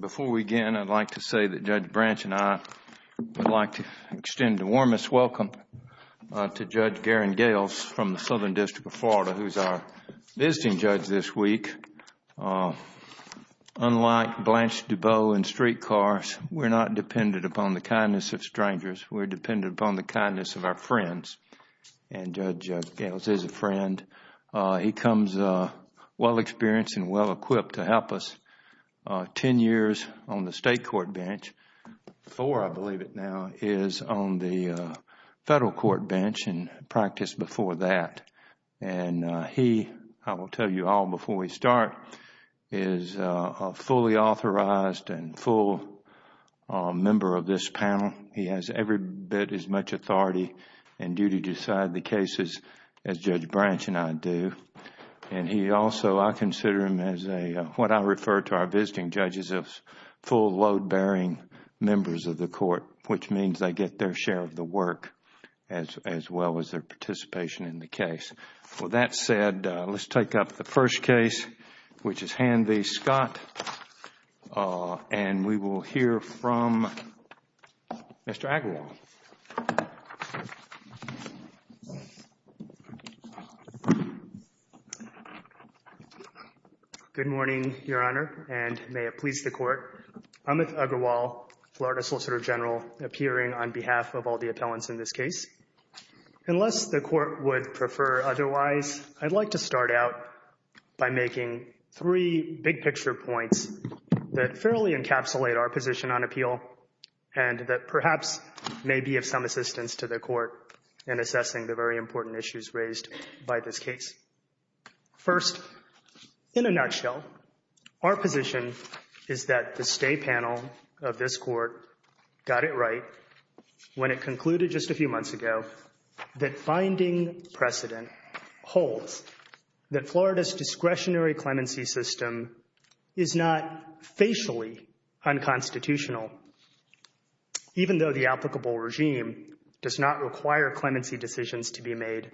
Before we begin, I'd like to say that Judge Branch and I would like to extend a warmest welcome to Judge Garen Gales from the Southern District of Florida, who is our visiting judge this week. Unlike Blanche DuBose and streetcars, we're not dependent upon the kindness of strangers. We're dependent upon the kindness of our friends, and Judge Gales is a friend. He comes well-experienced and well-equipped to help us. Ten years on the state court bench. Four, I believe it now, is on the federal court bench and practiced before that. He, I will tell you all before we start, is a fully authorized and full member of this panel. He has every bit as much authority and duty to decide the cases as Judge Branch and I do. He also, I consider him as what I refer to our visiting judges as full, load-bearing members of the court, which means they get their share of the work as well as their participation in the case. With that said, let's take up the first case, which is Hanvey Scott, and we will hear from Mr. Agrawal. Good morning, Your Honor, and may it please the court. I'm Amit Agrawal, Florida Solicitor General, appearing on behalf of all the appellants in this case. Unless the court would prefer otherwise, I'd like to start out by making three big-picture points that fairly encapsulate our position on appeal and that perhaps may be of some assistance to the court in assessing the very important issues raised by this case. First, in a nutshell, our position is that the stay panel of this court got it right when it concluded just a few months ago that finding precedent holds that Florida's discretionary clemency system is not facially unconstitutional, even though the applicable regime does not require clemency decisions to be made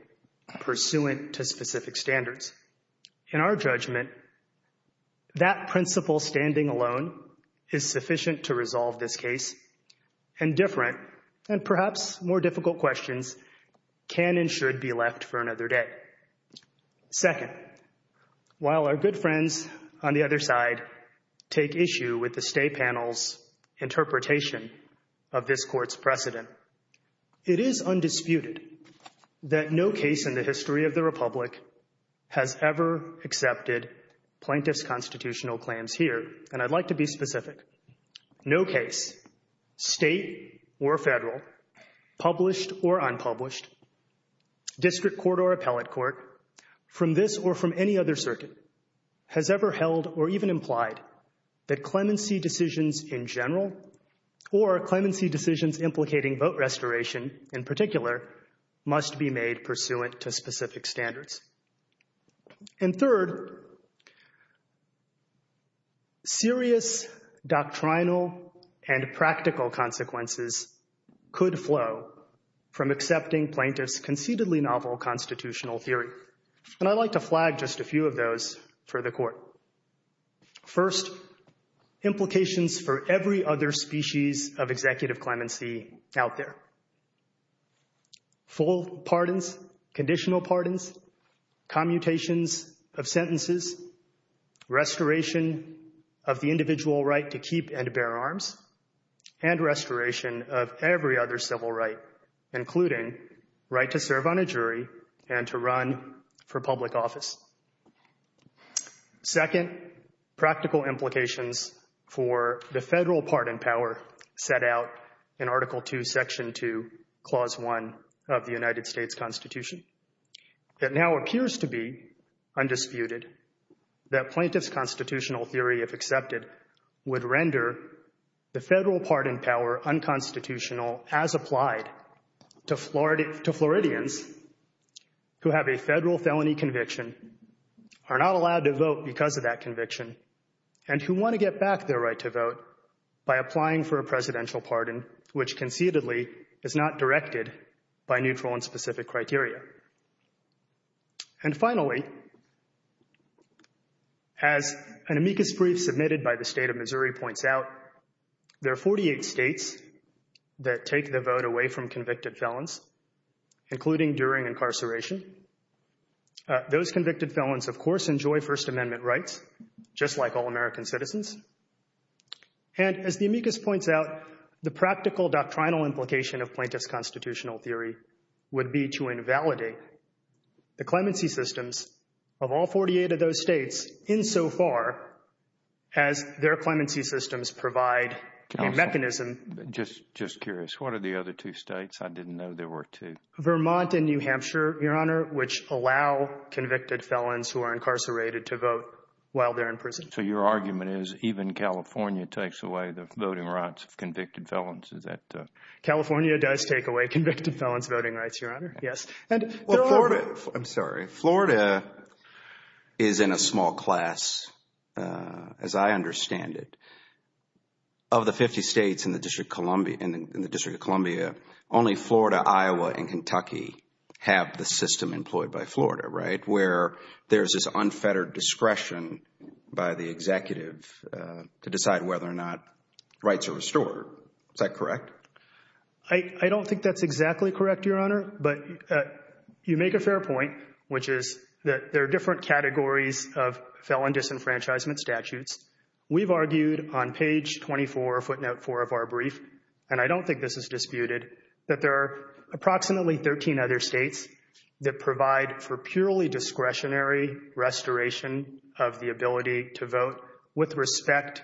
pursuant to specific standards. In our judgment, that principle standing alone is sufficient to resolve this case, and different and perhaps more difficult questions can and should be left for another day. Second, while our good friends on the other side take issue with the stay panel's interpretation of this court's precedent, it is undisputed that no case in the history of the Republic has ever accepted plaintiff's constitutional claims here, and I'd like to be specific. No case, state or federal, published or unpublished, district court or appellate court, from this or from any other circuit, has ever held or even implied that clemency decisions in general or clemency decisions implicating vote restoration in particular must be made pursuant to specific standards. And third, serious doctrinal and practical consequences could flow from accepting plaintiff's conceitedly novel constitutional theory, and I'd like to flag just a few of those for the court. First, implications for every other species of executive clemency out there. Full pardons, conditional pardons, commutations of sentences, restoration of the individual right to keep and bear arms, and restoration of every other civil right, including right to serve on a jury and to run for public office. Second, practical implications for the federal pardon power set out in Article II, Section 2, Clause 1 of the United States Constitution. It now appears to be undisputed that plaintiff's constitutional theory, if accepted, would render the federal pardon power unconstitutional as applied to Floridians who have a federal felony conviction, are not allowed to vote because of that conviction, and who want to get back their right to vote by applying for a presidential pardon, which conceitedly is not directed by neutral and specific criteria. And finally, as an amicus brief submitted by the state of Missouri points out, there are 48 states that take the vote away from convicted felons, including during incarceration. Those convicted felons, of course, enjoy First Amendment rights, just like all American citizens. And as the amicus points out, the practical doctrinal implication of plaintiff's constitutional theory would be to invalidate the clemency systems of all 48 of those states insofar as their clemency systems provide a mechanism. Just curious, what are the other two states? I didn't know there were two. Vermont and New Hampshire, Your Honor, which allow convicted felons who are incarcerated to vote while they're in prison. So your argument is even California takes away the voting rights of convicted felons? California does take away convicted felons' voting rights, Your Honor. I'm sorry. Florida is in a small class, as I understand it. Of the 50 states in the District of Columbia, only Florida, Iowa, and Kentucky have the system employed by Florida, right? Where there's this unfettered discretion by the executive to decide whether or not rights are restored. Is that correct? I don't think that's exactly correct, Your Honor, but you make a fair point, which is that there are different categories of felon disenfranchisement statutes. We've argued on page 24, footnote 4 of our brief, and I don't think this is disputed, that there are approximately 13 other states that provide for purely discretionary restoration of the ability to vote with respect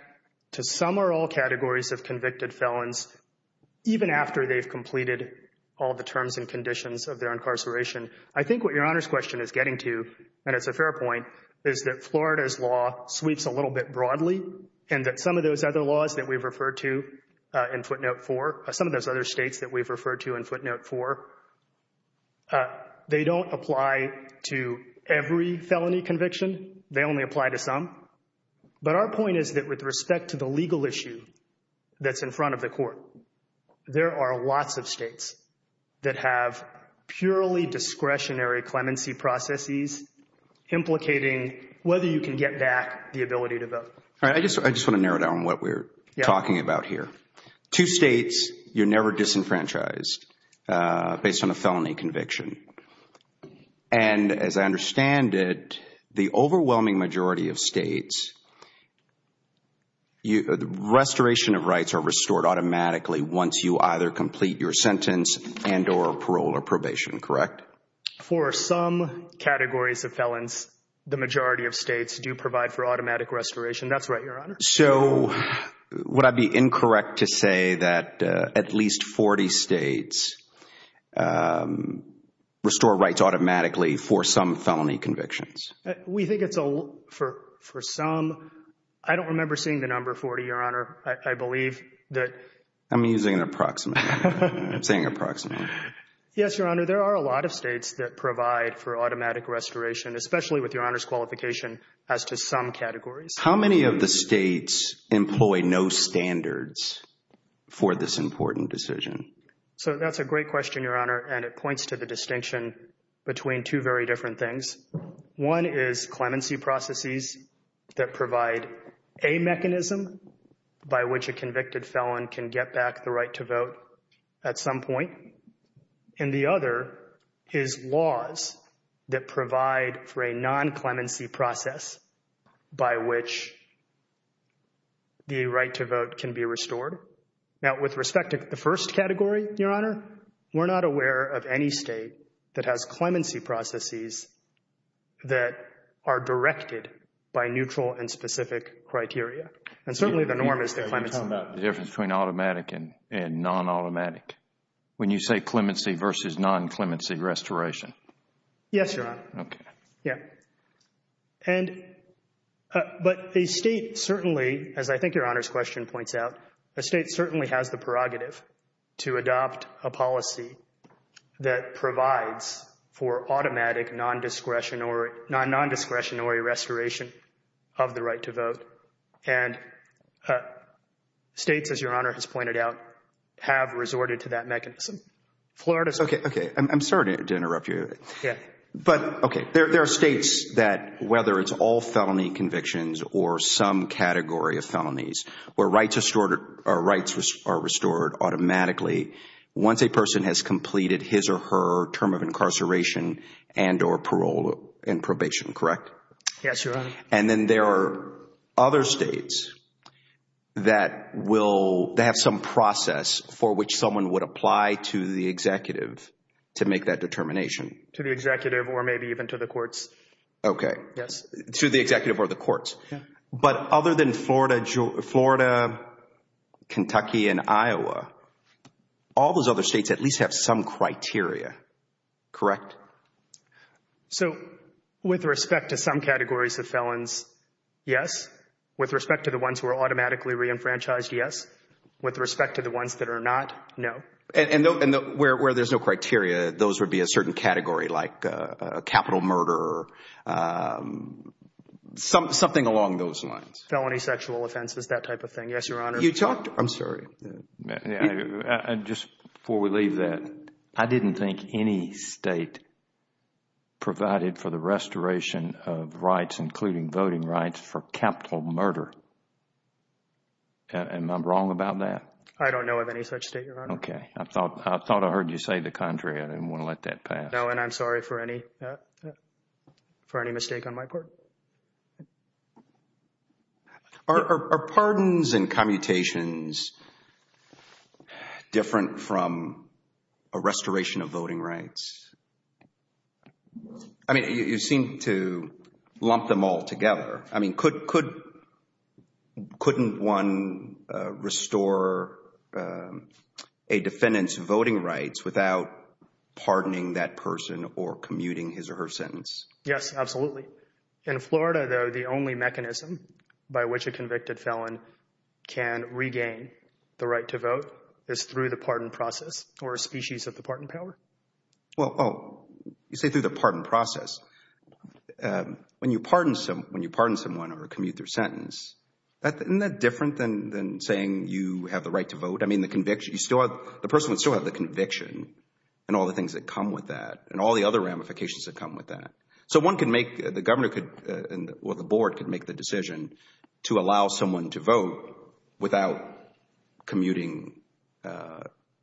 to some or all categories of convicted felons, even after they've completed all the terms and conditions of their incarceration. I think what Your Honor's question is getting to, and it's a fair point, is that Florida's law sweeps a little bit broadly and that some of those other laws that we've referred to in footnote 4, some of those other states that we've referred to in footnote 4, they don't apply to every felony conviction. They only apply to some. But our point is that with respect to the legal issue that's in front of the court, there are lots of states that have purely discretionary clemency processes implicating whether you can get back the ability to vote. I just want to narrow down what we're talking about here. Two states, you're never disenfranchised based on a felony conviction. And as I understand it, the overwhelming majority of states, restoration of rights are restored automatically once you either complete your sentence and or parole or probation, correct? For some categories of felons, the majority of states do provide for automatic restoration. That's right, Your Honor. So would I be incorrect to say that at least 40 states restore rights automatically for some felony convictions? We think it's for some. I don't remember seeing the number 40, Your Honor. I believe that. I'm using an approximate. I'm saying approximate. Yes, Your Honor. There are a lot of states that provide for automatic restoration, especially with Your Honor's qualification as to some categories. How many of the states employ no standards for this important decision? So that's a great question, Your Honor. And it points to the distinction between two very different things. One is clemency processes that provide a mechanism by which a convicted felon can get back the right to vote at some point. And the other is laws that provide for a non-clemency process by which the right to vote can be restored. Now, with respect to the first category, Your Honor, we're not aware of any state that has clemency processes that are directed by neutral and specific criteria. And certainly the norm is that clemency. You're talking about the difference between automatic and non-automatic. When you say clemency versus non-clemency restoration. Yes, Your Honor. Okay. Yeah. And, but a state certainly, as I think Your Honor's question points out, a state certainly has the prerogative to adopt a policy that provides for automatic, non-discretionary, non-non-discretionary restoration of the right to vote. And states, as Your Honor has pointed out, have resorted to that mechanism. Florida's... Okay. Okay. I'm sorry to interrupt you. Yeah. But, okay, there are states that, whether it's all felony convictions or some category of felonies, where rights are restored automatically once a person has completed his or her term of incarceration and or parole and probation, correct? Yes, Your Honor. And then there are other states that will, that have some process for which someone would apply to the executive to make that determination. To the executive or maybe even to the courts. Okay. Yes. To the executive or the courts. Yeah. But other than Florida, Kentucky, and Iowa, all those other states at least have some criteria, correct? So, with respect to some categories of felons, yes. With respect to the ones who are automatically re-enfranchised, yes. With respect to the ones that are not, no. And where there's no criteria, those would be a certain category like a capital murder or something along those lines. Felony sexual offenses, that type of thing. Yes, Your Honor. You talked... I'm sorry. Just before we leave that, I didn't think any state provided for the restoration of rights, including voting rights, for capital murder. Am I wrong about that? I don't know of any such state, Your Honor. Okay. I thought I heard you say the contrary. I didn't want to let that pass. No, and I'm sorry for any mistake on my part. Are pardons and commutations different from a restoration of voting rights? I mean, you seem to lump them all together. I mean, couldn't one restore a defendant's voting rights without pardoning that person or commuting his or her sentence? Yes, absolutely. In Florida, though, the only mechanism by which a convicted felon can regain the right to vote is through the pardon process or a species of the pardon power. Well, you say through the pardon process. When you pardon someone or commute their sentence, isn't that different than saying you have the right to vote? I mean, the conviction, the person would still have the conviction and all the things that come with that and all the other ramifications that come with that. So one can make, the governor could, or the board could make the decision to allow someone to vote without commuting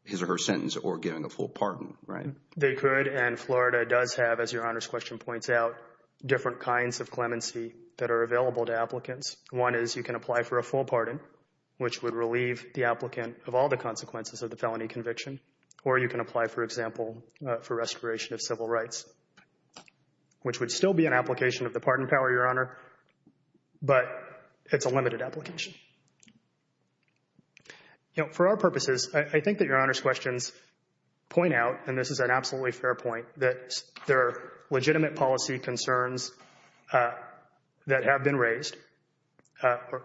his or her sentence or giving a full pardon, right? They could, and Florida does have, as Your Honor's question points out, different kinds of clemency that are available to applicants. One is you can apply for a full pardon, which would relieve the applicant of all the consequences of the felony conviction. Or you can apply, for example, for restoration of civil rights. Which would still be an application of the pardon power, Your Honor, but it's a limited application. You know, for our purposes, I think that Your Honor's questions point out, and this is an absolutely fair point, that there are legitimate policy concerns that have been raised.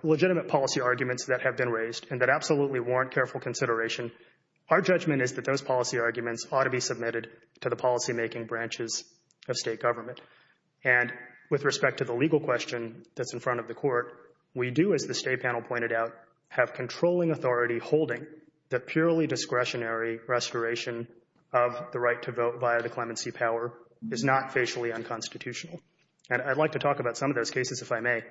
Legitimate policy arguments that have been raised and that absolutely warrant careful consideration. Our judgment is that those policy arguments ought to be submitted to the policymaking branches of state government. And with respect to the legal question that's in front of the court, we do, as the state panel pointed out, have controlling authority holding that purely discretionary restoration of the right to vote via the clemency power is not facially unconstitutional. And I'd like to talk about some of those cases, if I may.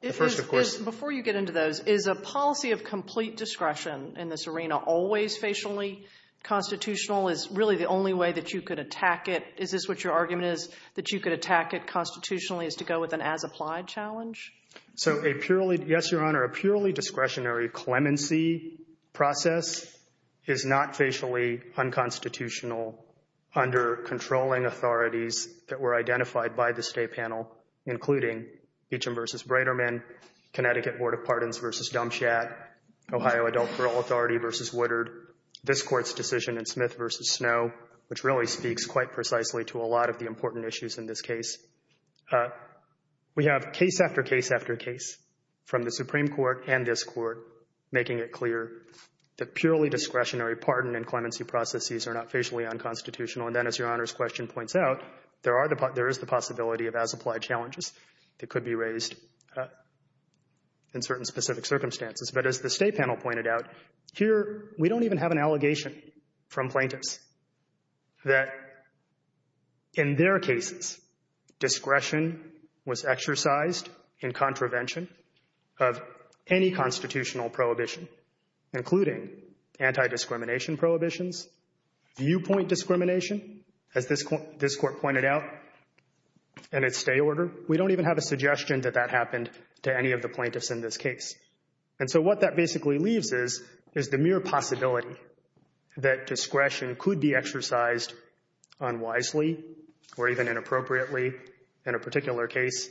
Before you get into those, is a policy of complete discretion in this arena always facially constitutional? Is really the only way that you could attack it? Is this what your argument is, that you could attack it constitutionally, is to go with an as-applied challenge? So, yes, Your Honor, a purely discretionary clemency process is not facially unconstitutional under controlling authorities that were identified by the state panel, including Beecham v. Breiterman, Connecticut Board of Pardons v. Dump Shack, Ohio Adult Parole Authority v. Woodard, this Court's decision in Smith v. Snow, which really speaks quite precisely to a lot of the important issues in this case. We have case after case after case from the Supreme Court and this Court making it clear that purely discretionary pardon and clemency processes are not facially unconstitutional. And then, as Your Honor's question points out, there is the possibility of as-applied challenges that could be raised in certain specific circumstances. But as the state panel pointed out, here we don't even have an allegation from plaintiffs that, in their cases, discretion was exercised in contravention of any constitutional prohibition, including anti-discrimination prohibitions, viewpoint discrimination, as this Court pointed out, and its stay order. We don't even have a suggestion that that happened to any of the plaintiffs in this case. And so what that basically leaves is, is the mere possibility that discretion could be exercised unwisely or even inappropriately in a particular case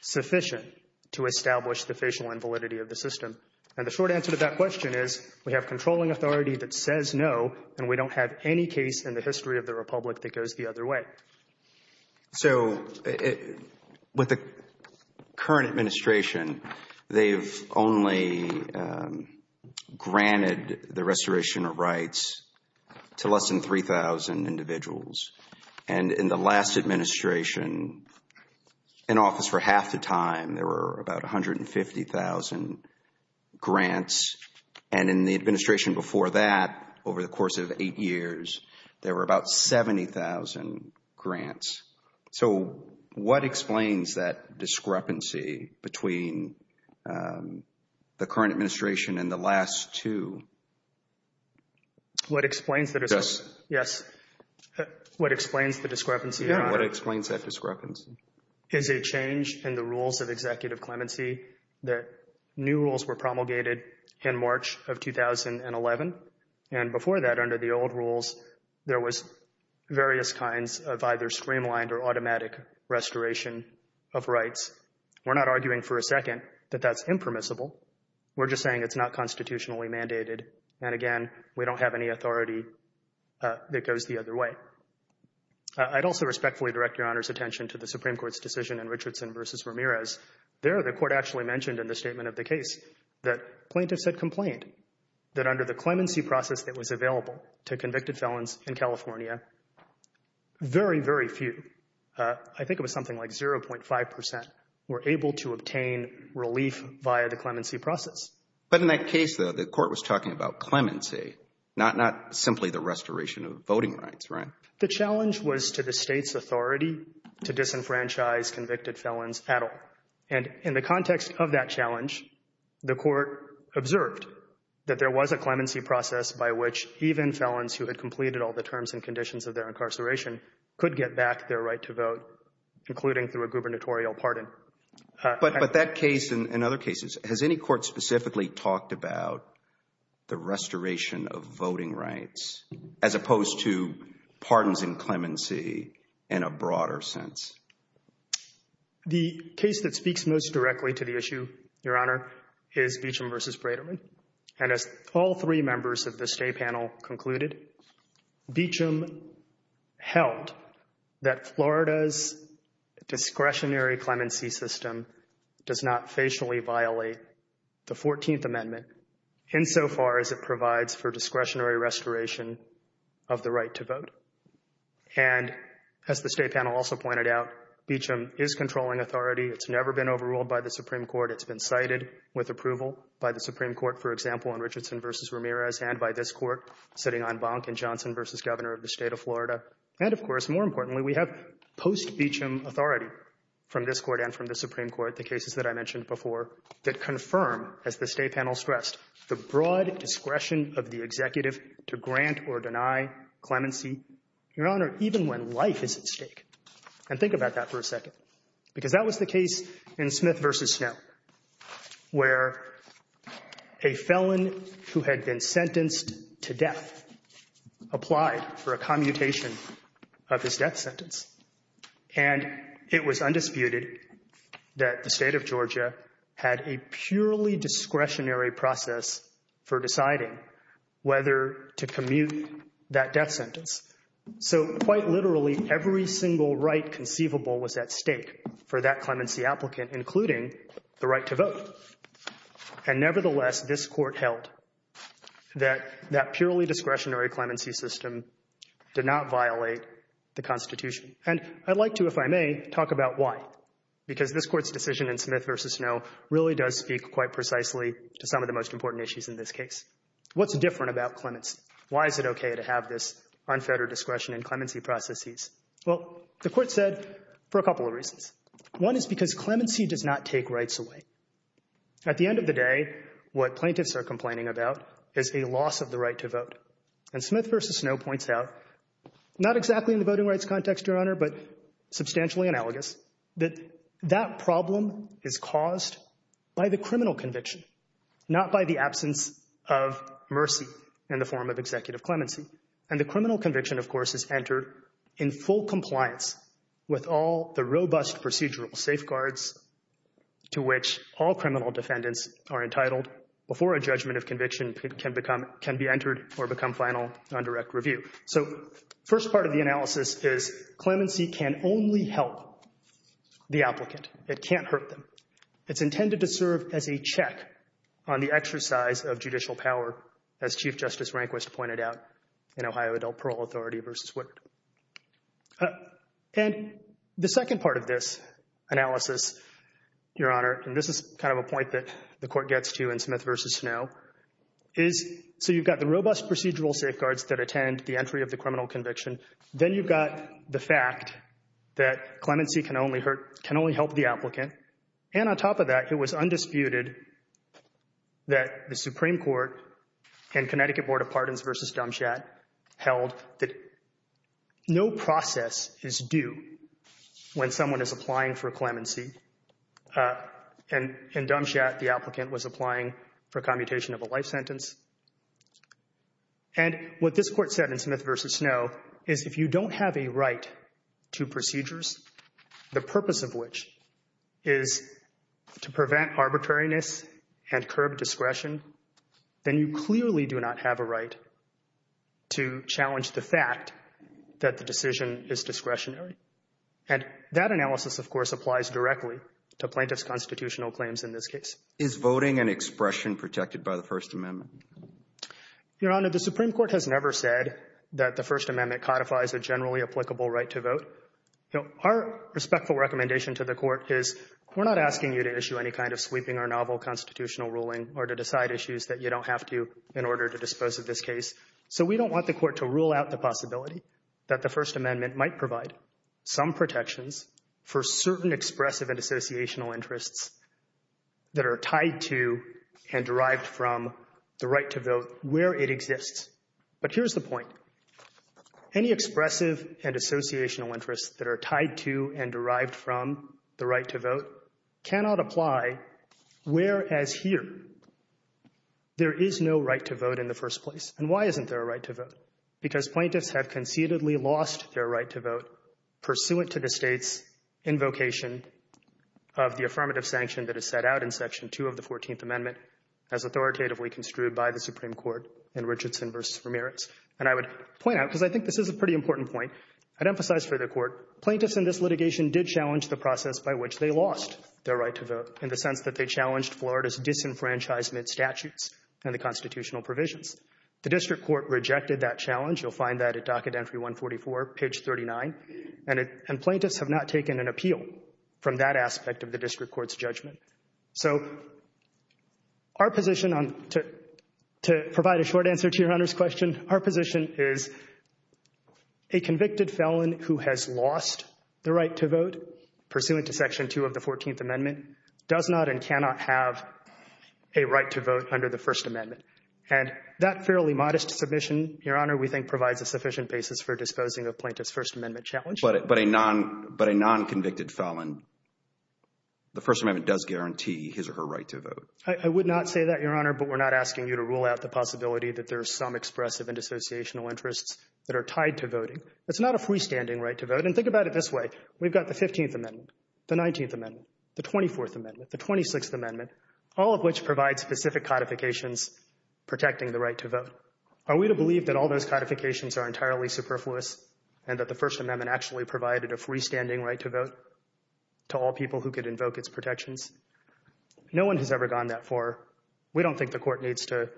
sufficient to establish the facial invalidity of the system. And the short answer to that question is we have controlling authority that says no, and we don't have any case in the history of the Republic that goes the other way. So with the current administration, they've only granted the restoration of rights to less than 3,000 individuals. And in the last administration, in office for half the time, there were about 150,000 grants. And in the administration before that, over the course of eight years, there were about 70,000 grants. So what explains that discrepancy between the current administration and the last two? What explains the discrepancy? Yes. What explains the discrepancy? What explains that discrepancy? Is a change in the rules of executive clemency that new rules were promulgated in March of 2011. And before that, under the old rules, there was various kinds of either streamlined or automatic restoration of rights. We're not arguing for a second that that's impermissible. We're just saying it's not constitutionally mandated. And again, we don't have any authority that goes the other way. I'd also respectfully direct Your Honor's attention to the Supreme Court's decision in Richardson v. Ramirez. There, the court actually mentioned in the statement of the case that plaintiffs had complained that under the clemency process that was available to convicted felons in California, very, very few, I think it was something like 0.5 percent, were able to obtain relief via the clemency process. But in that case, though, the court was talking about clemency, not simply the restoration of voting rights, right? The challenge was to the state's authority to disenfranchise convicted felons at all. And in the context of that challenge, the court observed that there was a clemency process by which even felons who had completed all the terms and conditions of their incarceration could get back their right to vote, including through a gubernatorial pardon. But that case and other cases, has any court specifically talked about the restoration of voting rights as opposed to pardons and clemency in a broader sense? The case that speaks most directly to the issue, Your Honor, is Beecham v. Braderman. And as all three members of the state panel concluded, Beecham held that Florida's discretionary clemency system does not facially violate the 14th Amendment insofar as it provides for discretionary restoration of the right to vote. And as the state panel also pointed out, Beecham is controlling authority. It's never been overruled by the Supreme Court. It's been cited with approval by the Supreme Court, for example, in Richardson v. Ramirez and by this court sitting on Bonk in Johnson v. Governor of the State of Florida. And of course, more importantly, we have post-Beecham authority from this court and from the Supreme Court, the cases that I mentioned before, that confirm, as the state panel stressed, the broad discretion of the executive to grant or deny clemency, Your Honor, even when life is at stake. And think about that for a second, because that was the case in Smith v. Snow, where a felon who had been sentenced to death applied for a commutation of his death sentence. And it was undisputed that the state of Georgia had a purely discretionary process for deciding whether to commute that death sentence. So quite literally, every single right conceivable was at stake for that clemency applicant, including the right to vote. And nevertheless, this court held that that purely discretionary clemency system did not violate the Constitution. And I'd like to, if I may, talk about why, because this court's decision in Smith v. Snow really does speak quite precisely to some of the most important issues in this case. What's different about clemency? Why is it okay to have this unfettered discretion in clemency processes? Well, the court said for a couple of reasons. One is because clemency does not take rights away. At the end of the day, what plaintiffs are complaining about is a loss of the right to vote. And Smith v. Snow points out, not exactly in the voting rights context, Your Honor, but substantially analogous, that that problem is caused by the criminal conviction, not by the absence of mercy in the form of executive clemency. And the criminal conviction, of course, is entered in full compliance with all the robust procedural safeguards to which all criminal defendants are entitled before a judgment of conviction can be entered or become final on direct review. So first part of the analysis is clemency can only help the applicant. It can't hurt them. It's intended to serve as a check on the exercise of judicial power, as Chief Justice Rehnquist pointed out in Ohio Adult Parole Authority v. Woodard. And the second part of this analysis, Your Honor, and this is kind of a point that the court gets to in Smith v. Snow, is so you've got the robust procedural safeguards that attend the entry of the criminal conviction. Then you've got the fact that clemency can only help the applicant. And on top of that, it was undisputed that the Supreme Court and Connecticut Board of Pardons v. Dumbshat held that no process is due when someone is applying for clemency. And in Dumbshat, the applicant was applying for commutation of a life sentence. And what this Court said in Smith v. Snow is if you don't have a right to procedures, the purpose of which is to prevent arbitrariness and curb discretion, then you clearly do not have a right to challenge the fact that the decision is discretionary. And that analysis, of course, applies directly to plaintiff's constitutional claims in this case. Is voting and expression protected by the First Amendment? Your Honor, the Supreme Court has never said that the First Amendment codifies a generally applicable right to vote. Our respectful recommendation to the Court is we're not asking you to issue any kind of sweeping or novel constitutional ruling or to decide issues that you don't have to in order to dispose of this case. So we don't want the Court to rule out the possibility that the First Amendment might provide some protections for certain expressive and associational interests that are tied to and derived from the right to vote where it exists. But here's the point. Any expressive and associational interests that are tied to and derived from the right to vote cannot apply, whereas here there is no right to vote in the first place. And why isn't there a right to vote? Because plaintiffs have conceitedly lost their right to vote pursuant to the State's invocation of the affirmative sanction that is set out in Section 2 of the 14th Amendment as authoritatively construed by the Supreme Court in Richardson v. Ramirez. And I would point out, because I think this is a pretty important point, I'd emphasize for the Court, plaintiffs in this litigation did challenge the process by which they lost their right to vote in the sense that they challenged Florida's disenfranchisement statutes and the constitutional provisions. The District Court rejected that challenge. You'll find that at docket entry 144, page 39. And plaintiffs have not taken an appeal from that aspect of the District Court's judgment. So our position, to provide a short answer to Your Honor's question, our position is a convicted felon who has lost the right to vote pursuant to Section 2 of the 14th Amendment does not and cannot have a right to vote under the First Amendment. And that fairly modest submission, Your Honor, we think provides a sufficient basis for disposing of plaintiff's First Amendment challenge. But a non-convicted felon, the First Amendment does guarantee his or her right to vote. I would not say that, Your Honor, but we're not asking you to rule out the possibility that there are some expressive and associational interests that are tied to voting. It's not a freestanding right to vote. And think about it this way. We've got the 15th Amendment, the 19th Amendment, the 24th Amendment, the 26th Amendment, all of which provide specific codifications protecting the right to vote. Are we to believe that all those codifications are entirely superfluous and that the First Amendment actually provided a freestanding right to vote to all people who could invoke its protections? No one has ever gone that far. We don't think the Court needs to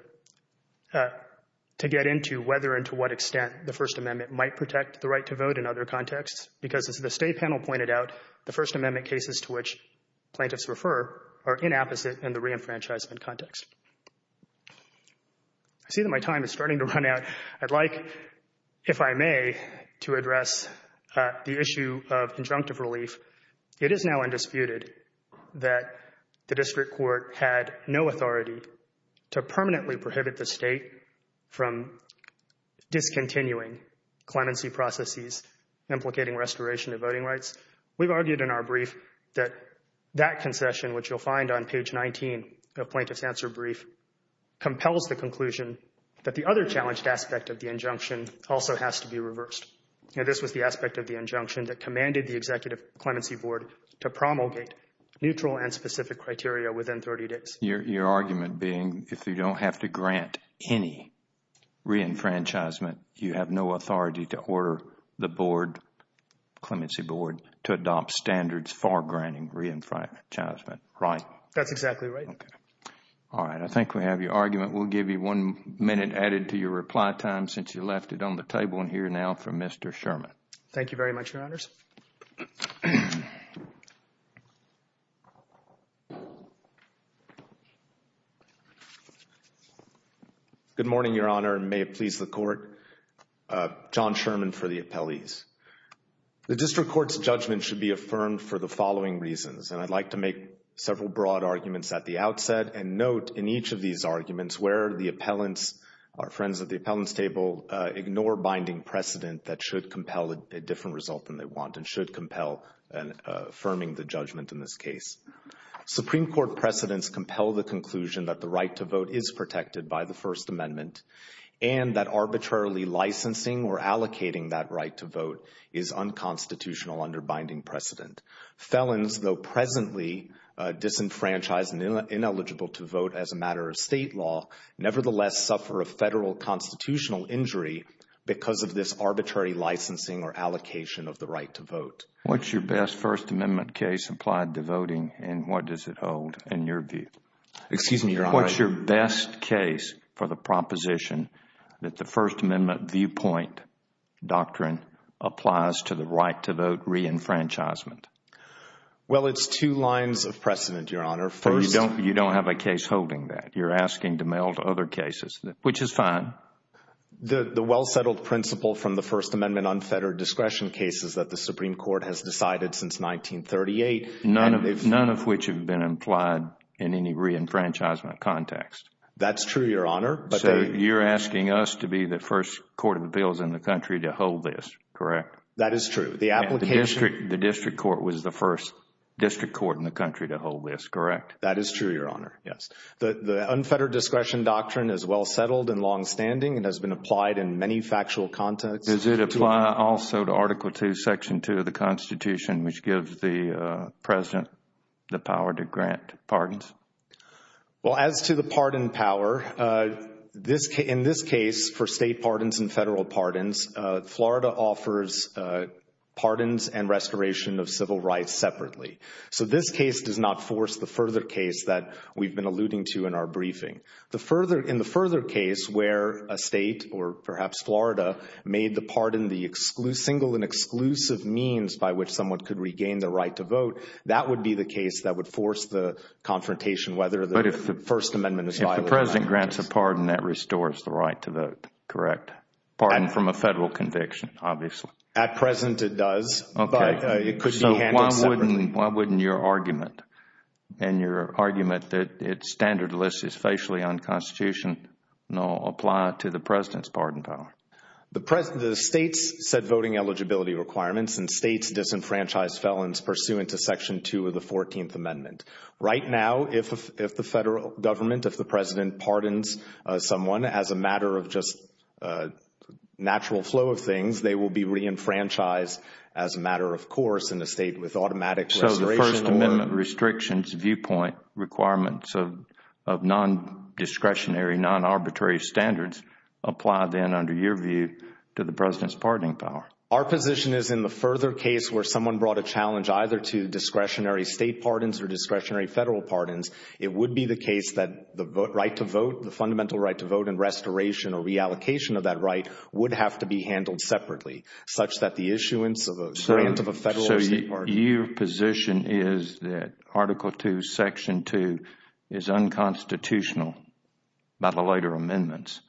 get into whether and to what extent the First Amendment might protect the right to vote in other contexts because, as the State panel pointed out, the First Amendment cases to which plaintiffs refer are inapposite in the reenfranchisement context. I see that my time is starting to run out. I'd like, if I may, to address the issue of conjunctive relief. It is now undisputed that the District Court had no authority to permanently prohibit the State from discontinuing clemency processes implicating restoration of voting rights. We've argued in our brief that that concession, which you'll find on page 19 of Plaintiff's Answer Brief, compels the conclusion that the other challenged aspect of the injunction also has to be reversed. This was the aspect of the injunction that commanded the Executive Clemency Board to promulgate neutral and specific criteria within 30 days. Your argument being if you don't have to grant any reenfranchisement, you have no authority to order the board, clemency board, to adopt standards for granting reenfranchisement, right? That's exactly right. All right. I think we have your argument. We'll give you one minute added to your reply time since you left it on the table. And here now for Mr. Sherman. Thank you very much, Your Honors. Good morning, Your Honor, and may it please the Court. John Sherman for the appellees. The District Court's judgment should be affirmed for the following reasons. And I'd like to make several broad arguments at the outset and note in each of these arguments where the appellants, our friends at the appellants table, ignore binding precedent that should compel a different result than they want and should compel affirming the judgment in this case. Supreme Court precedents compel the conclusion that the right to vote is protected by the First Amendment and that arbitrarily licensing or allocating that right to vote is unconstitutional under binding precedent. Felons, though presently disenfranchised and ineligible to vote as a matter of state law, nevertheless suffer a federal constitutional injury because of this arbitrary licensing or allocation of the right to vote. What's your best First Amendment case applied to voting and what does it hold in your view? Excuse me, Your Honor. What's your best case for the proposition that the First Amendment viewpoint doctrine applies to the right to vote reenfranchisement? Well, it's two lines of precedent, Your Honor. You don't have a case holding that. You're asking to meld other cases, which is fine. The well-settled principle from the First Amendment unfettered discretion case is that the Supreme Court has decided since 1938. None of which have been implied in any reenfranchisement context. That's true, Your Honor. So you're asking us to be the first court of appeals in the country to hold this, correct? That is true. The application. The district court was the first district court in the country to hold this, correct? That is true, Your Honor, yes. The unfettered discretion doctrine is well settled and longstanding and has been applied in many factual contexts. Does it apply also to Article II, Section 2 of the Constitution, which gives the President the power to grant pardons? Well, as to the pardon power, in this case, for state pardons and federal pardons, Florida offers pardons and restoration of civil rights separately. So this case does not force the further case that we've been alluding to in our briefing. In the further case where a state or perhaps Florida made the pardon the single and exclusive means by which someone could regain the right to vote, that would be the case that would force the confrontation whether the First Amendment is violated. If the President grants a pardon, that restores the right to vote, correct? Pardon from a federal conviction, obviously. At present, it does. Okay. It could be handled separately. So why wouldn't your argument and your argument that it's standardless, it's facially unconstitutional, apply to the President's pardon power? The states set voting eligibility requirements and states disenfranchised felons pursuant to Section 2 of the 14th Amendment. Right now, if the federal government, if the President pardons someone as a matter of just natural flow of things, they will be reenfranchised as a matter of course in a state with automatic restoration. So the First Amendment restrictions viewpoint requirements of non-discretionary, non-arbitrary standards apply then under your view to the President's pardoning power? Our position is in the further case where someone brought a challenge either to discretionary state pardons or discretionary federal pardons. It would be the case that the right to vote, the fundamental right to vote and restoration or reallocation of that right would have to be handled separately, such that the issuance of a grant of a federal state pardon. Your position is that Article 2, Section 2 is unconstitutional by the later amendments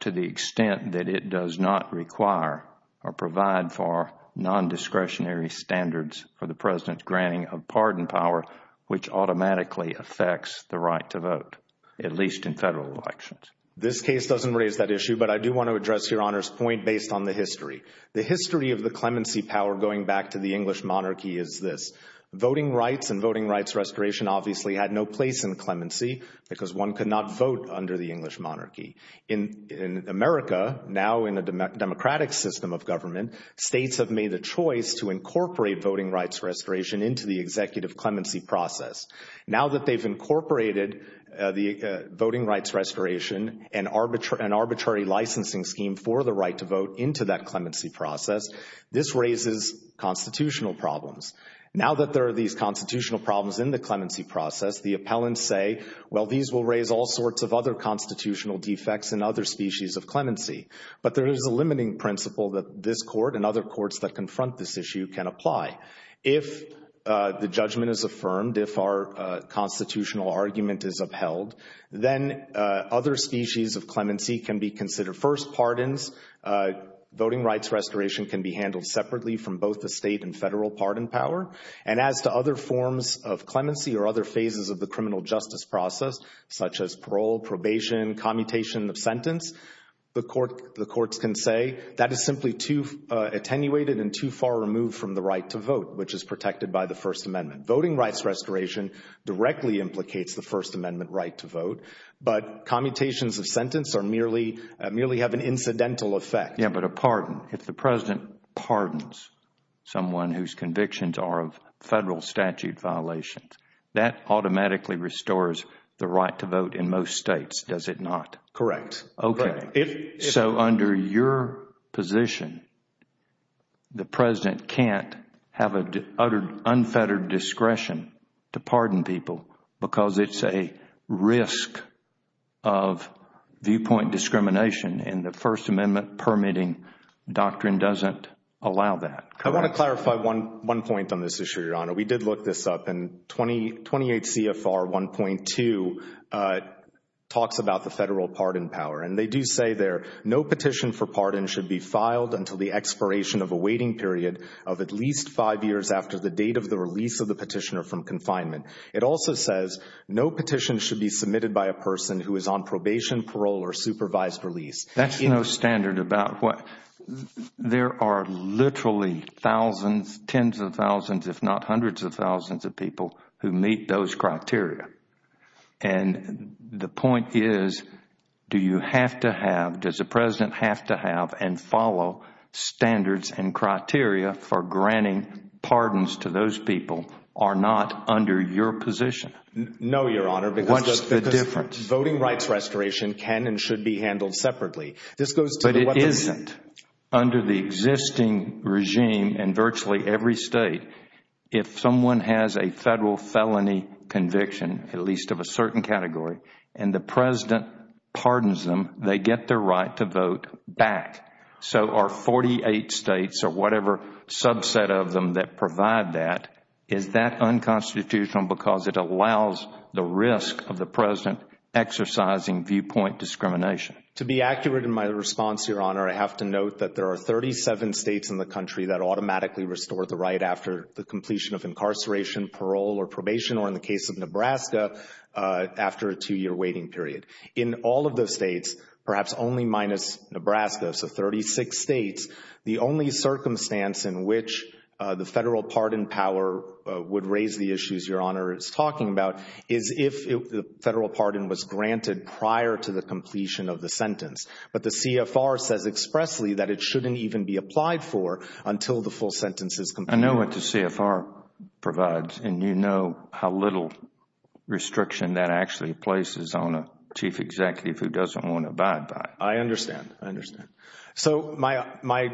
to the extent that it does not require or provide for non-discretionary standards for the President's granting of pardon power, which automatically affects the right to vote, at least in federal elections? This case doesn't raise that issue, but I do want to address Your Honor's point based on the history. The history of the clemency power going back to the English monarchy is this. Voting rights and voting rights restoration obviously had no place in clemency because one could not vote under the English monarchy. In America, now in a democratic system of government, states have made a choice to incorporate voting rights restoration into the executive clemency process. Now that they've incorporated the voting rights restoration and arbitrary licensing scheme for the right to vote into that clemency process, this raises constitutional problems. Now that there are these constitutional problems in the clemency process, the appellants say, well, these will raise all sorts of other constitutional defects and other species of clemency. But there is a limiting principle that this Court and other courts that confront this issue can apply. If the judgment is affirmed, if our constitutional argument is upheld, then other species of clemency can be considered. First, pardons. Voting rights restoration can be handled separately from both the state and federal pardon power. And as to other forms of clemency or other phases of the criminal justice process, such as parole, probation, commutation of sentence, the courts can say that is simply too attenuated and too far removed from the right to vote, which is protected by the First Amendment. Voting rights restoration directly implicates the First Amendment right to vote, but commutations of sentence merely have an incidental effect. Yeah, but a pardon. If the President pardons someone whose convictions are of federal statute violations, that automatically restores the right to vote in most states, does it not? Correct. Okay. So under your position, the President can't have an unfettered discretion to pardon people because it's a risk of viewpoint discrimination, and the First Amendment permitting doctrine doesn't allow that. I want to clarify one point on this issue, Your Honor. We did look this up, and 28 CFR 1.2 talks about the federal pardon power. And they do say there, no petition for pardon should be filed until the expiration of a waiting period of at least five years after the date of the release of the petitioner from confinement. It also says no petition should be submitted by a person who is on probation, parole, or supervised release. That is no standard. There are literally thousands, tens of thousands, if not hundreds of thousands of people who meet those criteria. And the point is, do you have to have, does the President have to have and follow standards and criteria for granting pardons to those people are not under your position? No, Your Honor. What is the difference? Voting rights restoration can and should be handled separately. But it isn't. Under the existing regime in virtually every state, if someone has a federal felony conviction, at least of a certain category, and the President pardons them, they get their right to vote back. So are 48 states or whatever subset of them that provide that, is that unconstitutional because it allows the risk of the President exercising viewpoint discrimination? To be accurate in my response, Your Honor, I have to note that there are 37 states in the country that automatically restore the right after the completion of incarceration, parole, or probation, or in the case of Nebraska, after a two-year waiting period. In all of those states, perhaps only minus Nebraska, so 36 states, the only circumstance in which the federal pardon power would raise the issues Your Honor is talking about is if the federal pardon was granted prior to the completion of the sentence. But the CFR says expressly that it shouldn't even be applied for until the full sentence is completed. I know what the CFR provides, and you know how little restriction that actually places on a chief executive who doesn't want to abide by it. I understand. I understand. So my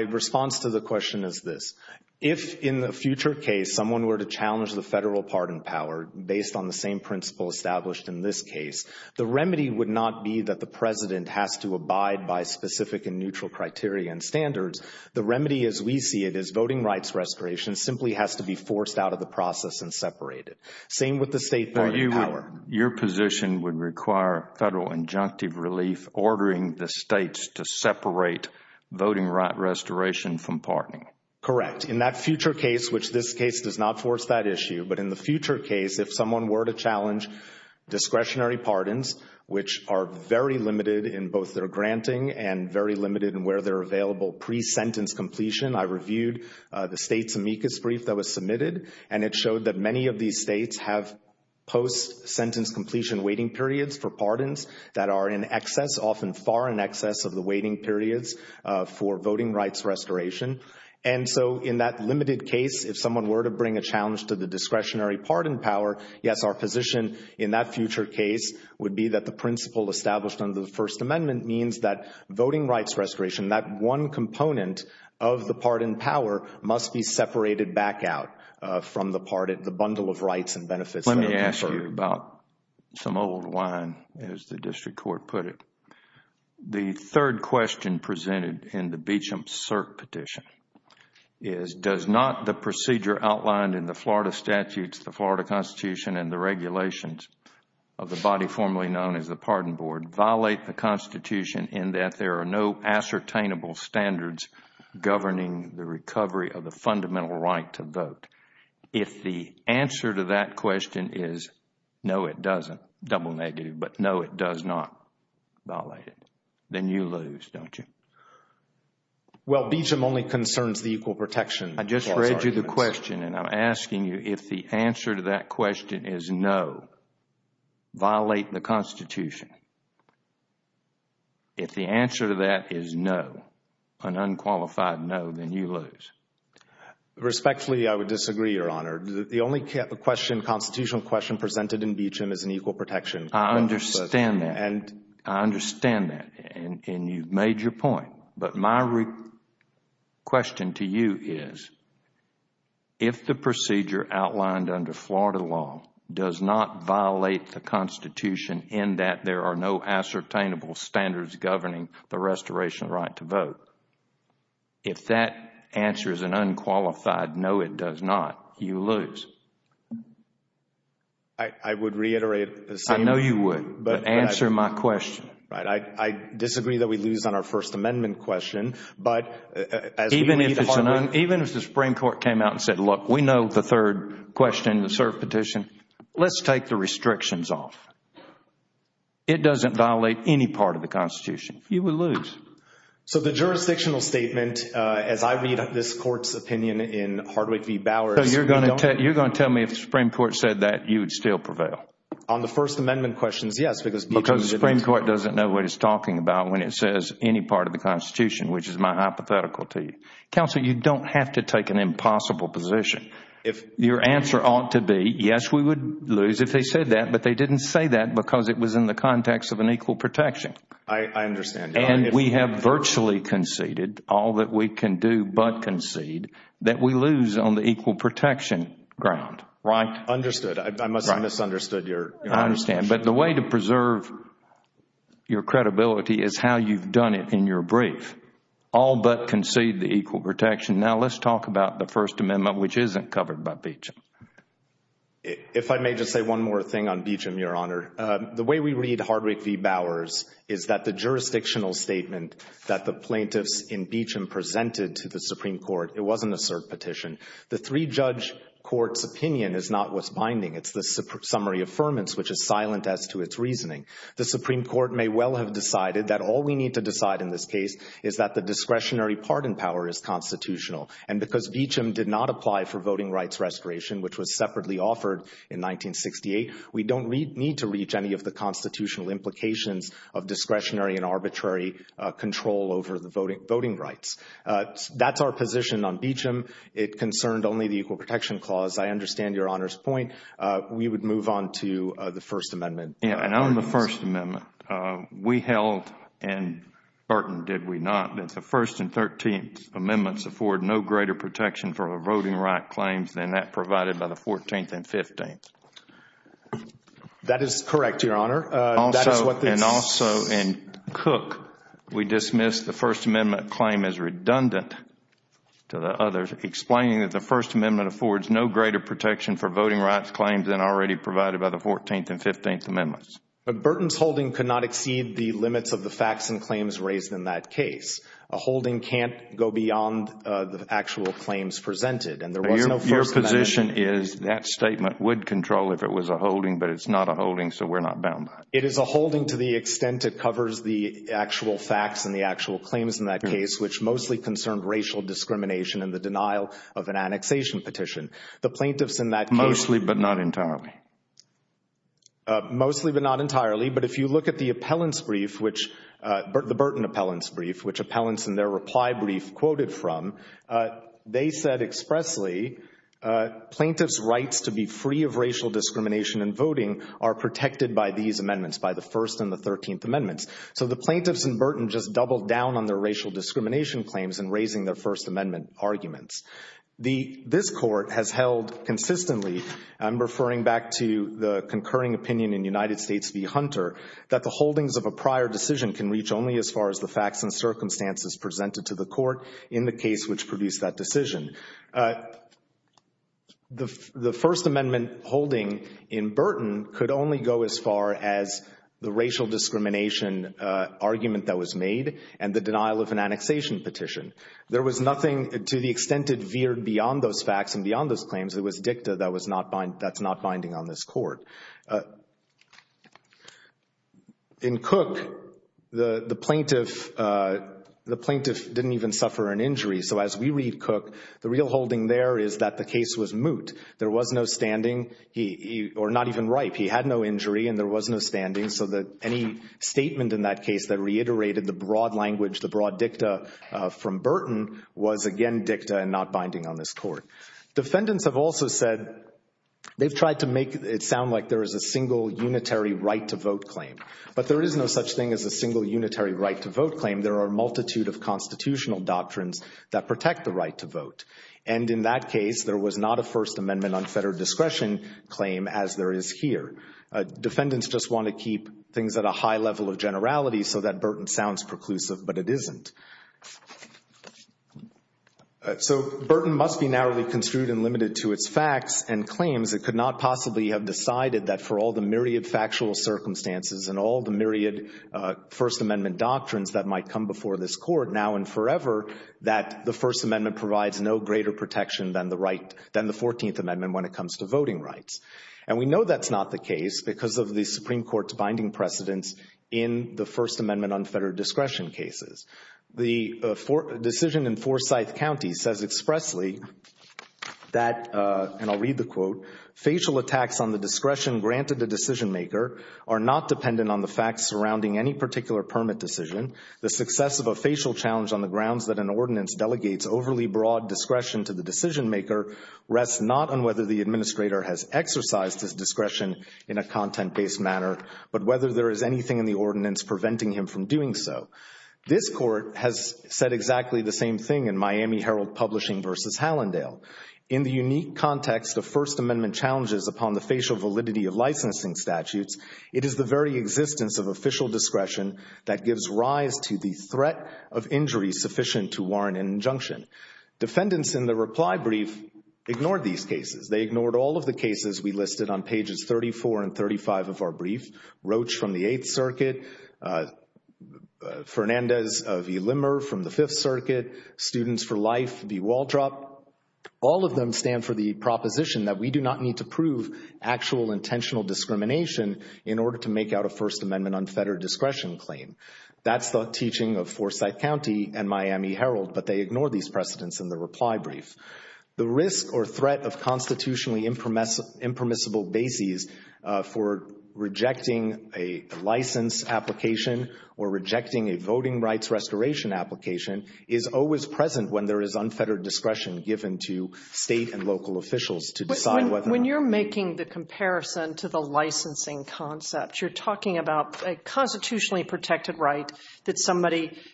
response to the question is this. If in the future case someone were to challenge the federal pardon power based on the same principle established in this case, the remedy would not be that the President has to abide by specific and neutral criteria and standards. The remedy as we see it is voting rights restoration simply has to be forced out of the process and separated. Same with the state pardon power. Your position would require federal injunctive relief ordering the states to separate voting right restoration from pardoning. Correct. In that future case, which this case does not force that issue, but in the future case, if someone were to challenge discretionary pardons, which are very limited in both their granting and very limited in where they're available pre-sentence completion, I reviewed the state's amicus brief that was submitted, and it showed that many of these states have post-sentence completion waiting periods for pardons that are in excess, often far in excess of the waiting periods for voting rights restoration. And so in that limited case, if someone were to bring a challenge to the discretionary pardon power, yes, our position in that future case would be that the principle established under the First Amendment means that voting rights restoration, that one component of the pardon power must be separated back out from the bundle of rights and benefits that are conferred. Let me ask you about some old wine, as the district court put it. The third question presented in the Beecham CERC petition is, does not the procedure outlined in the Florida statutes, the Florida Constitution, and the regulations of the body formerly known as the Pardon Board violate the Constitution in that there are no ascertainable standards governing the recovery of the fundamental right to vote? If the answer to that question is no, it doesn't, double negative, but no, it does not violate it, then you lose, don't you? Well, Beecham only concerns the equal protection. I just read you the question, and I'm asking you if the answer to that question is no, violate the Constitution. If the answer to that is no, an unqualified no, then you lose. Respectfully, I would disagree, Your Honor. The only constitutional question presented in Beecham is an equal protection. I understand that. I understand that, and you've made your point. But my question to you is, if the procedure outlined under Florida law does not violate the Constitution in that there are no ascertainable standards governing the restoration of the right to vote, if that answer is an unqualified no, it does not, you lose. I would reiterate the same. I know you would, but answer my question. I disagree that we lose on our First Amendment question. Even if the Supreme Court came out and said, look, we know the third question, the cert petition. Let's take the restrictions off. It doesn't violate any part of the Constitution. You would lose. So the jurisdictional statement, as I read this Court's opinion in Hardwick v. Bowers. You're going to tell me if the Supreme Court said that, you would still prevail? On the First Amendment questions, yes, because Beecham didn't. Because the Supreme Court doesn't know what it's talking about when it says any part of the Constitution, which is my hypothetical to you. Counsel, you don't have to take an impossible position. Your answer ought to be, yes, we would lose if they said that, but they didn't say that because it was in the context of an equal protection. I understand. And we have virtually conceded all that we can do but concede that we lose on the equal protection ground. Right, understood. I must have misunderstood your understanding. I understand, but the way to preserve your credibility is how you've done it in your brief. All but concede the equal protection. Now, let's talk about the First Amendment, which isn't covered by Beecham. If I may just say one more thing on Beecham, Your Honor. The way we read Hardwick v. Bowers is that the jurisdictional statement that the plaintiffs in Beecham presented to the Supreme Court, it wasn't a cert petition. The three-judge court's opinion is not what's binding. It's the summary affirmance, which is silent as to its reasoning. The Supreme Court may well have decided that all we need to decide in this case is that the discretionary pardon power is constitutional. And because Beecham did not apply for voting rights restoration, which was separately offered in 1968, we don't need to reach any of the constitutional implications of discretionary and arbitrary control over the voting rights. That's our position on Beecham. It concerned only the equal protection clause. I understand Your Honor's point. We would move on to the First Amendment. And on the First Amendment, we held and burdened, did we not, that the First and Thirteenth Amendments afford no greater protection for voting right claims than that provided by the Fourteenth and Fifteenth? That is correct, Your Honor. And also in Cook, we dismissed the First Amendment claim as redundant to the others, explaining that the First Amendment affords no greater protection for voting rights claims than already provided by the Fourteenth and Fifteenth Amendments. Burton's holding could not exceed the limits of the facts and claims raised in that case. A holding can't go beyond the actual claims presented. And there was no First Amendment. Your position is that statement would control if it was a holding, but it's not a holding, so we're not bound by it. It is a holding to the extent it covers the actual facts and the actual claims in that case, which mostly concerned racial discrimination and the denial of an annexation petition. The plaintiffs in that case – Mostly, but not entirely. Mostly, but not entirely. But if you look at the appellant's brief, the Burton appellant's brief, which appellants in their reply brief quoted from, they said expressly, plaintiff's rights to be free of racial discrimination in voting are protected by these amendments, by the First and the Thirteenth Amendments. So the plaintiffs in Burton just doubled down on their racial discrimination claims in raising their First Amendment arguments. This court has held consistently – I'm referring back to the concurring opinion in United States v. Hunter – that the holdings of a prior decision can reach only as far as the facts and circumstances presented to the court in the case which produced that decision. The First Amendment holding in Burton could only go as far as the racial discrimination argument that was made and the denial of an annexation petition. There was nothing to the extent it veered beyond those facts and beyond those claims. It was dicta that's not binding on this court. In Cook, the plaintiff didn't even suffer an injury. So as we read Cook, the real holding there is that the case was moot. There was no standing – or not even ripe. He had no injury and there was no standing. So any statement in that case that reiterated the broad language, the broad dicta from Burton, was again dicta and not binding on this court. Defendants have also said they've tried to make it sound like there is a single unitary right to vote claim. But there is no such thing as a single unitary right to vote claim. There are a multitude of constitutional doctrines that protect the right to vote. And in that case, there was not a First Amendment unfettered discretion claim as there is here. Defendants just want to keep things at a high level of generality so that Burton sounds preclusive, but it isn't. So Burton must be narrowly construed and limited to its facts and claims. It could not possibly have decided that for all the myriad factual circumstances and all the myriad First Amendment doctrines that might come before this court now and forever, that the First Amendment provides no greater protection than the 14th Amendment when it comes to voting rights. And we know that's not the case because of the Supreme Court's binding precedence in the First Amendment unfettered discretion cases. The decision in Forsyth County says expressly that, and I'll read the quote, facial attacks on the discretion granted the decision maker are not dependent on the facts surrounding any particular permit decision. The success of a facial challenge on the grounds that an ordinance delegates overly broad discretion to the decision maker rests not on whether the administrator has exercised his discretion in a content-based manner, but whether there is anything in the ordinance preventing him from doing so. This court has said exactly the same thing in Miami Herald Publishing v. Hallandale. In the unique context of First Amendment challenges upon the facial validity of licensing statutes, it is the very existence of official discretion that gives rise to the threat of injury sufficient to warrant an injunction. Defendants in the reply brief ignored these cases. They ignored all of the cases we listed on pages 34 and 35 of our brief. Roach from the Eighth Circuit, Fernandez v. Limmer from the Fifth Circuit, Students for Life v. Waldrop, all of them stand for the proposition that we do not need to prove actual intentional discrimination in order to make out a First Amendment unfettered discretion claim. That's the teaching of Forsyth County and Miami Herald, but they ignored these precedents in the reply brief. The risk or threat of constitutionally impermissible bases for rejecting a license application or rejecting a voting rights restoration application is always present when there is unfettered discretion given to state and local officials to decide whether or not—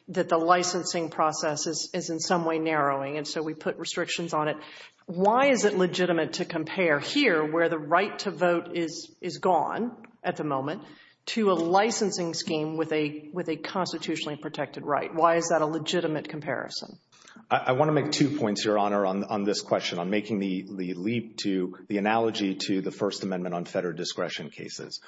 that the licensing process is in some way narrowing, and so we put restrictions on it. Why is it legitimate to compare here, where the right to vote is gone at the moment, to a licensing scheme with a constitutionally protected right? Why is that a legitimate comparison? I want to make two points, Your Honor, on this question, on making the leap to the analogy to the First Amendment unfettered discretion cases.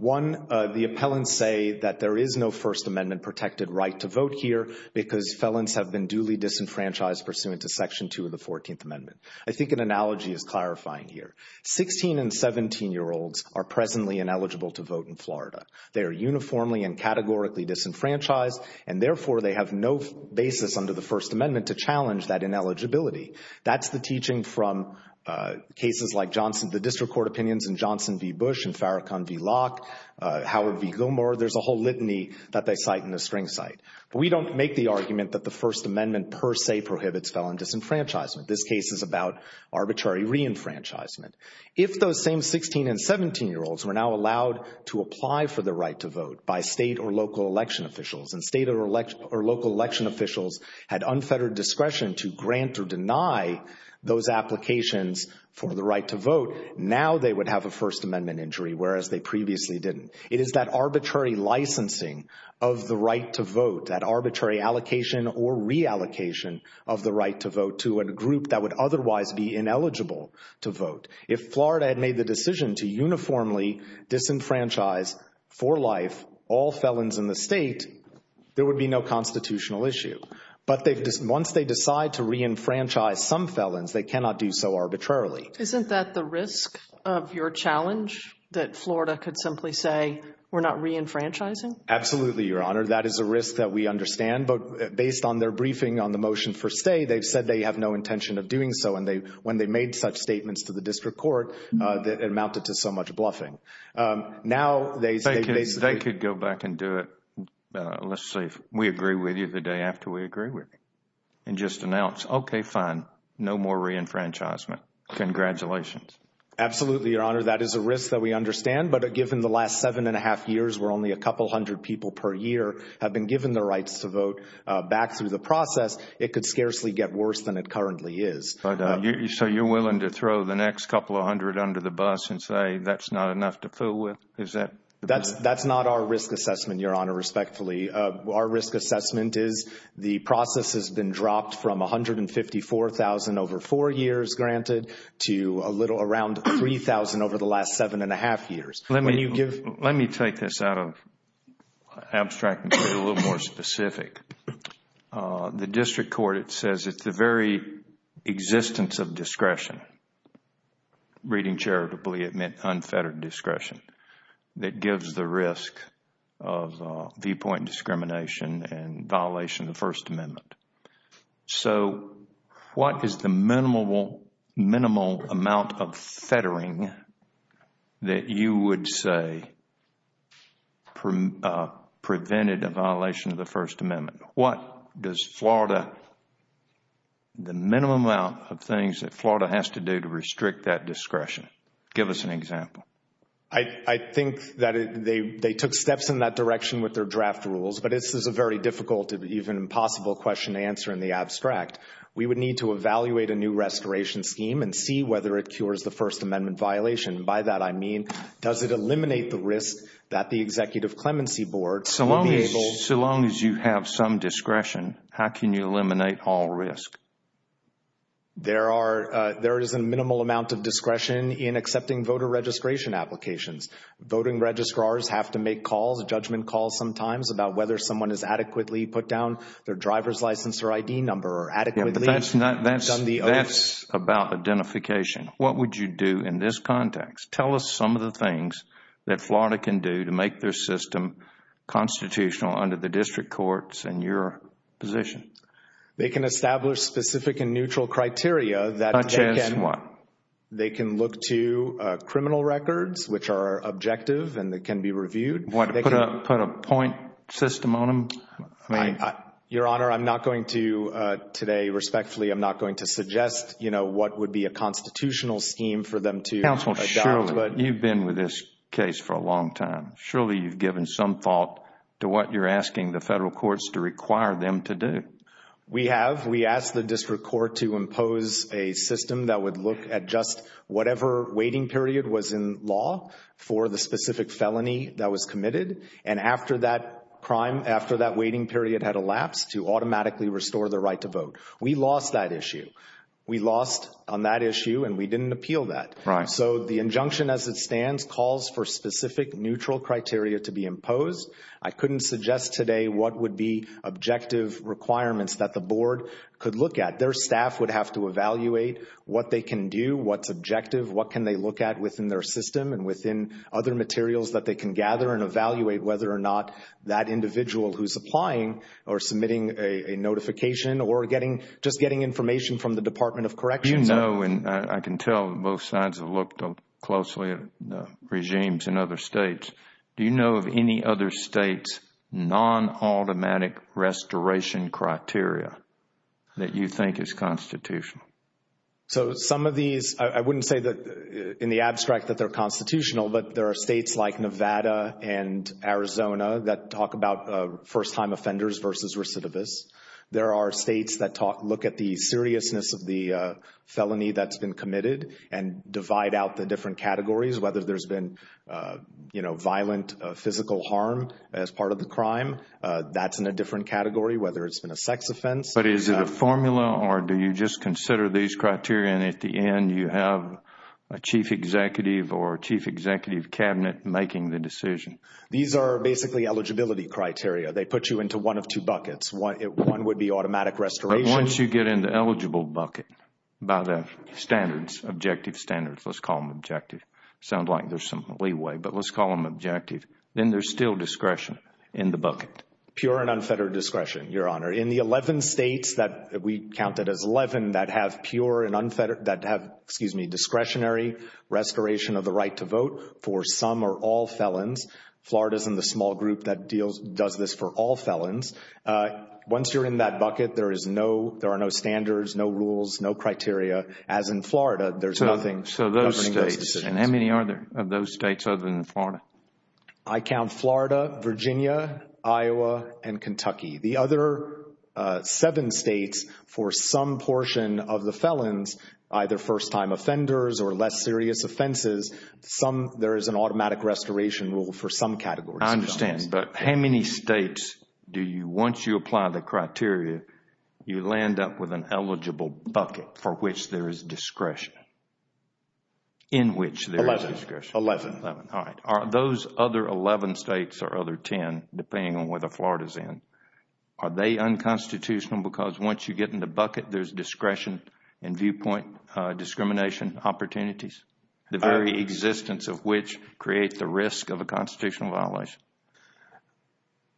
One, the appellants say that there is no First Amendment-protected right to vote here because felons have been duly disenfranchised pursuant to Section 2 of the 14th Amendment. I think an analogy is clarifying here. Sixteen- and 17-year-olds are presently ineligible to vote in Florida. They are uniformly and categorically disenfranchised, and therefore they have no basis under the First Amendment to challenge that ineligibility. That's the teaching from cases like the district court opinions in Johnson v. Bush and Farrakhan v. Locke, Howard v. Gilmore. There's a whole litany that they cite in the string site. We don't make the argument that the First Amendment per se prohibits felon disenfranchisement. This case is about arbitrary reenfranchisement. If those same 16- and 17-year-olds were now allowed to apply for the right to vote by state or local election officials, and state or local election officials had unfettered discretion to grant or deny those applications for the right to vote, now they would have a First Amendment injury whereas they previously didn't. It is that arbitrary licensing of the right to vote, that arbitrary allocation or reallocation of the right to vote to a group that would otherwise be ineligible to vote. If Florida had made the decision to uniformly disenfranchise for life all felons in the state, there would be no constitutional issue. But once they decide to reenfranchise some felons, they cannot do so arbitrarily. Isn't that the risk of your challenge, that Florida could simply say, we're not reenfranchising? Absolutely, Your Honor. That is a risk that we understand. But based on their briefing on the motion for stay, they've said they have no intention of doing so. When they made such statements to the district court, it amounted to so much bluffing. They could go back and do it. Let's say we agree with you the day after we agree with you and just announce, okay, fine, no more reenfranchisement. Congratulations. Absolutely, Your Honor. That is a risk that we understand. But given the last seven and a half years where only a couple hundred people per year have been given the rights to vote back through the process, it could scarcely get worse than it currently is. So you're willing to throw the next couple of hundred under the bus and say that's not enough to fool with? That's not our risk assessment, Your Honor, respectfully. Our risk assessment is the process has been dropped from 154,000 over four years granted to around 3,000 over the last seven and a half years. Let me take this out of abstract and get a little more specific. The district court, it says it's the very existence of discretion. Reading charitably, it meant unfettered discretion. That gives the risk of viewpoint discrimination and violation of the First Amendment. So what is the minimal amount of fettering that you would say prevented a violation of the First Amendment? What does Florida, the minimum amount of things that Florida has to do to restrict that discretion? Give us an example. I think that they took steps in that direction with their draft rules, but this is a very difficult, even impossible question to answer in the abstract. We would need to evaluate a new restoration scheme and see whether it cures the First Amendment violation. By that I mean does it eliminate the risk that the Executive Clemency Board So long as you have some discretion, how can you eliminate all risk? There is a minimal amount of discretion in accepting voter registration applications. Voting registrars have to make calls, judgment calls sometimes, about whether someone has adequately put down their driver's license or ID number or adequately done the oath. That's about identification. What would you do in this context? Tell us some of the things that Florida can do to make their system constitutional under the district courts and your position. They can establish specific and neutral criteria. Such as what? They can look to criminal records, which are objective and can be reviewed. Put a point system on them? Your Honor, I'm not going to today, respectfully, I'm not going to suggest what would be a constitutional scheme for them to adopt. Counsel, surely you've been with this case for a long time. Surely you've given some thought to what you're asking the federal courts to require them to do. We have. We asked the district court to impose a system that would look at just whatever waiting period was in law for the specific felony that was committed. And after that crime, after that waiting period had elapsed, to automatically restore the right to vote. We lost that issue. We lost on that issue and we didn't appeal that. Right. So the injunction as it stands calls for specific neutral criteria to be imposed. I couldn't suggest today what would be objective requirements that the board could look at. Their staff would have to evaluate what they can do, what's objective, what can they look at within their system and within other materials that they can gather and evaluate whether or not that individual who's applying or submitting a notification or just getting information from the Department of Corrections. Do you know, and I can tell both sides have looked closely at regimes in other states, do you know of any other states' non-automatic restoration criteria that you think is constitutional? So some of these, I wouldn't say in the abstract that they're constitutional, but there are states like Nevada and Arizona that talk about first-time offenders versus recidivists. There are states that look at the seriousness of the felony that's been committed and divide out the different categories, whether there's been violent physical harm as part of the crime, that's in a different category, whether it's been a sex offense. But is it a formula or do you just consider these criteria and at the end you have a chief executive or a chief executive cabinet making the decision? These are basically eligibility criteria. They put you into one of two buckets. One would be automatic restoration. But once you get in the eligible bucket by the standards, objective standards, let's call them objective. Sounds like there's some leeway, but let's call them objective. Then there's still discretion in the bucket. Pure and unfettered discretion, Your Honor. In the 11 states that we counted as 11 that have pure and unfettered, that have discretionary restoration of the right to vote for some or all felons, Florida is in the small group that does this for all felons. Once you're in that bucket, there are no standards, no rules, no criteria. As in Florida, there's nothing governing those decisions. So those states. And how many are there of those states other than Florida? I count Florida, Virginia, Iowa, and Kentucky. The other seven states for some portion of the felons, either first-time offenders or less serious offenses, there is an automatic restoration rule for some categories. I understand. But how many states do you, once you apply the criteria, you land up with an eligible bucket for which there is discretion? In which there is discretion? Eleven. Eleven. All right. Are those other 11 states or other 10, depending on where Florida is in, are they unconstitutional because once you get in the bucket, there's discretion and viewpoint discrimination opportunities? The very existence of which creates the risk of a constitutional violation?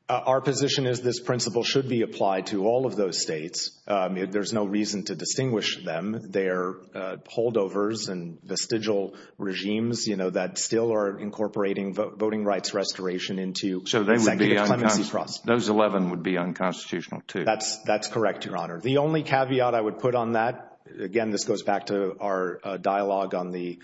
Our position is this principle should be applied to all of those states. There's no reason to distinguish them. They're holdovers and vestigial regimes, you know, that still are incorporating voting rights restoration into executive clemency process. So those 11 would be unconstitutional too? That's correct, Your Honor. The only caveat I would put on that, again, this goes back to our dialogue on the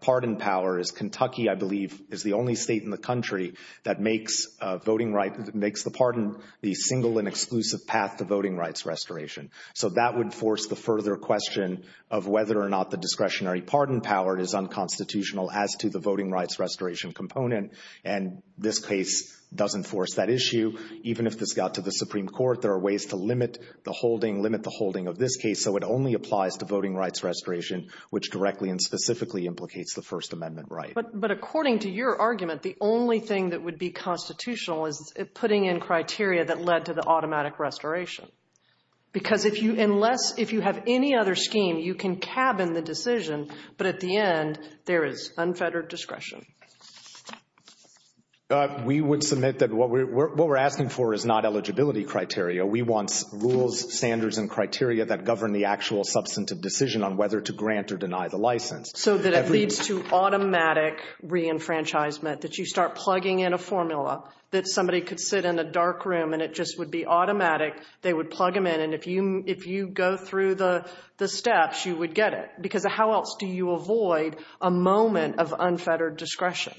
pardon power is Kentucky, I believe, is the only state in the country that makes voting rights, makes the pardon the single and exclusive path to voting rights restoration. So that would force the further question of whether or not the discretionary pardon power is unconstitutional as to the voting rights restoration component. And this case doesn't force that issue. Even if this got to the Supreme Court, there are ways to limit the holding, limit the holding of this case. So it only applies to voting rights restoration, which directly and specifically implicates the First Amendment right. But according to your argument, the only thing that would be constitutional is putting in criteria that led to the automatic restoration. Because if you have any other scheme, you can cabin the decision, but at the end, there is unfettered discretion. We would submit that what we're asking for is not eligibility criteria. We want rules, standards, and criteria that govern the actual substantive decision on whether to grant or deny the license. So that it leads to automatic reenfranchisement, that you start plugging in a formula, that somebody could sit in a dark room and it just would be automatic. They would plug them in. And if you go through the steps, you would get it. Because how else do you avoid a moment of unfettered discretion?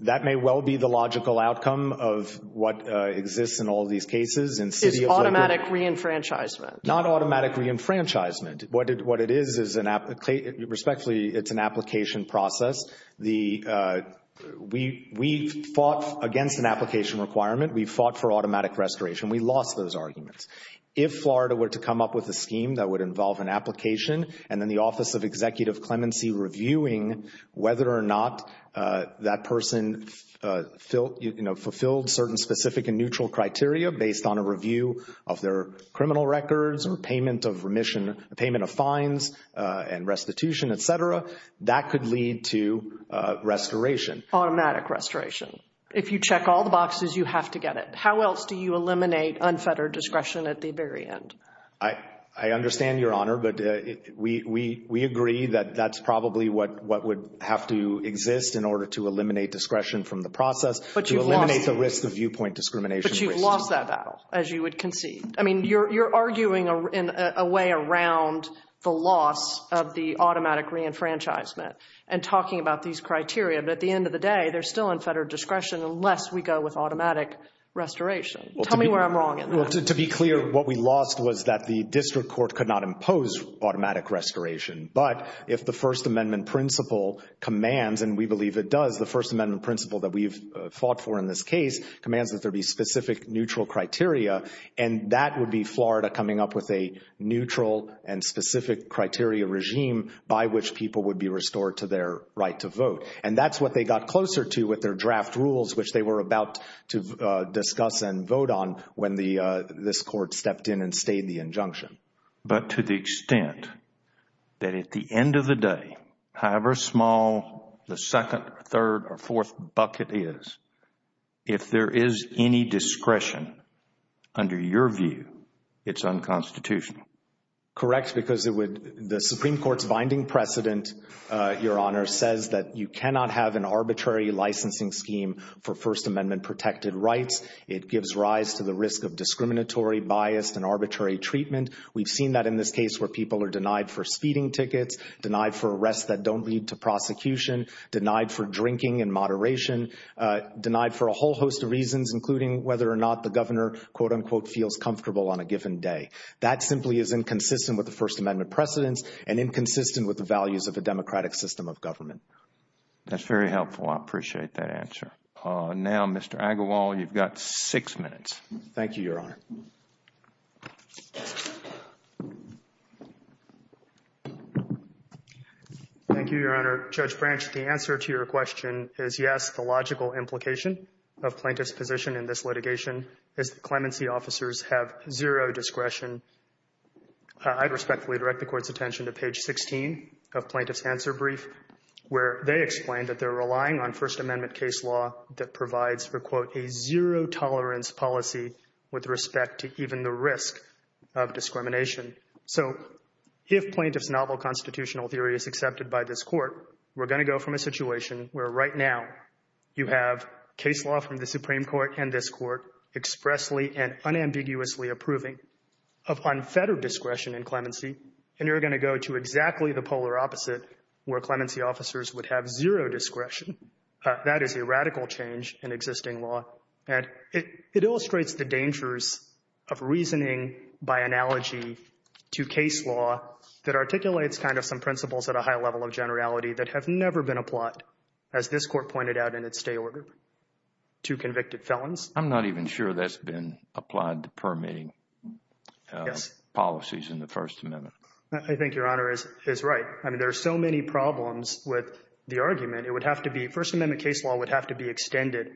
That may well be the logical outcome of what exists in all these cases. It's automatic reenfranchisement. Not automatic reenfranchisement. What it is, respectfully, it's an application process. We fought against an application requirement. We fought for automatic restoration. We lost those arguments. If Florida were to come up with a scheme that would involve an application and then the Office of Executive Clemency reviewing whether or not that person fulfilled certain specific and neutral criteria based on a review of their criminal records or payment of fines and restitution, et cetera, that could lead to restoration. Automatic restoration. If you check all the boxes, you have to get it. How else do you eliminate unfettered discretion at the very end? I understand, Your Honor, but we agree that that's probably what would have to exist in order to eliminate the risk of viewpoint discrimination. But you've lost that battle, as you would concede. I mean, you're arguing in a way around the loss of the automatic reenfranchisement and talking about these criteria. But at the end of the day, they're still unfettered discretion unless we go with automatic restoration. Tell me where I'm wrong in that. To be clear, what we lost was that the district court could not impose automatic restoration. But if the First Amendment principle commands, and we believe it does, the First Amendment principle that we've fought for in this case commands that there be specific neutral criteria, and that would be Florida coming up with a neutral and specific criteria regime by which people would be restored to their right to vote. And that's what they got closer to with their draft rules, which they were about to discuss and vote on when this court stepped in and stayed the injunction. But to the extent that at the end of the day, however small, the second, third, or fourth bucket is, if there is any discretion under your view, it's unconstitutional. Correct, because the Supreme Court's binding precedent, Your Honor, says that you cannot have an arbitrary licensing scheme for First Amendment protected rights. It gives rise to the risk of discriminatory bias and arbitrary treatment. We've seen that in this case where people are denied for speeding tickets, denied for arrests that don't lead to prosecution, denied for drinking in moderation, denied for a whole host of reasons, including whether or not the governor, quote, unquote, feels comfortable on a given day. That simply is inconsistent with the First Amendment precedents and inconsistent with the values of a democratic system of government. That's very helpful. I appreciate that answer. Now, Mr. Agarwal, you've got six minutes. Thank you, Your Honor. Thank you, Your Honor. Judge Branch, the answer to your question is yes. The logical implication of plaintiff's position in this litigation is that clemency officers have zero discretion. I'd respectfully direct the Court's attention to page 16 of plaintiff's answer brief where they explain that they're relying on First Amendment case law that provides for, quote, a zero-tolerance policy with respect to even the risk of discrimination. So if plaintiff's novel constitutional theory is accepted by this Court, we're going to go from a situation where right now you have case law from the Supreme Court and this Court expressly and unambiguously approving of unfettered discretion in clemency, and you're going to go to exactly the polar opposite where clemency officers would have zero discretion. That is a radical change in existing law, and it illustrates the dangers of reasoning by analogy to case law that articulates kind of some principles at a high level of generality that have never been applied, as this Court pointed out in its stay order, to convicted felons. I'm not even sure that's been applied to permitting policies in the First Amendment. I think Your Honor is right. I mean, there are so many problems with the argument. It would have to be First Amendment case law would have to be extended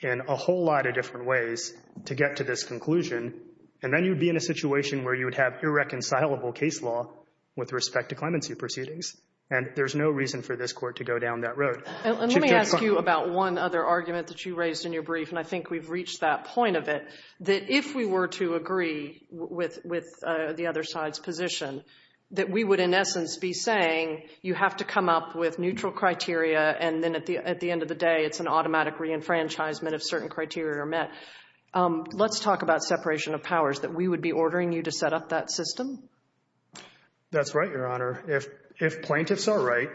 in a whole lot of different ways to get to this conclusion, and then you'd be in a situation where you would have irreconcilable case law with respect to clemency proceedings, and there's no reason for this Court to go down that road. And let me ask you about one other argument that you raised in your brief, and I think we've reached that point of it, that if we were to agree with the other side's position, that we would in essence be saying you have to come up with neutral criteria and then at the end of the day, it's an automatic reenfranchisement if certain criteria are met. Let's talk about separation of powers, that we would be ordering you to set up that system? That's right, Your Honor. If plaintiffs are right,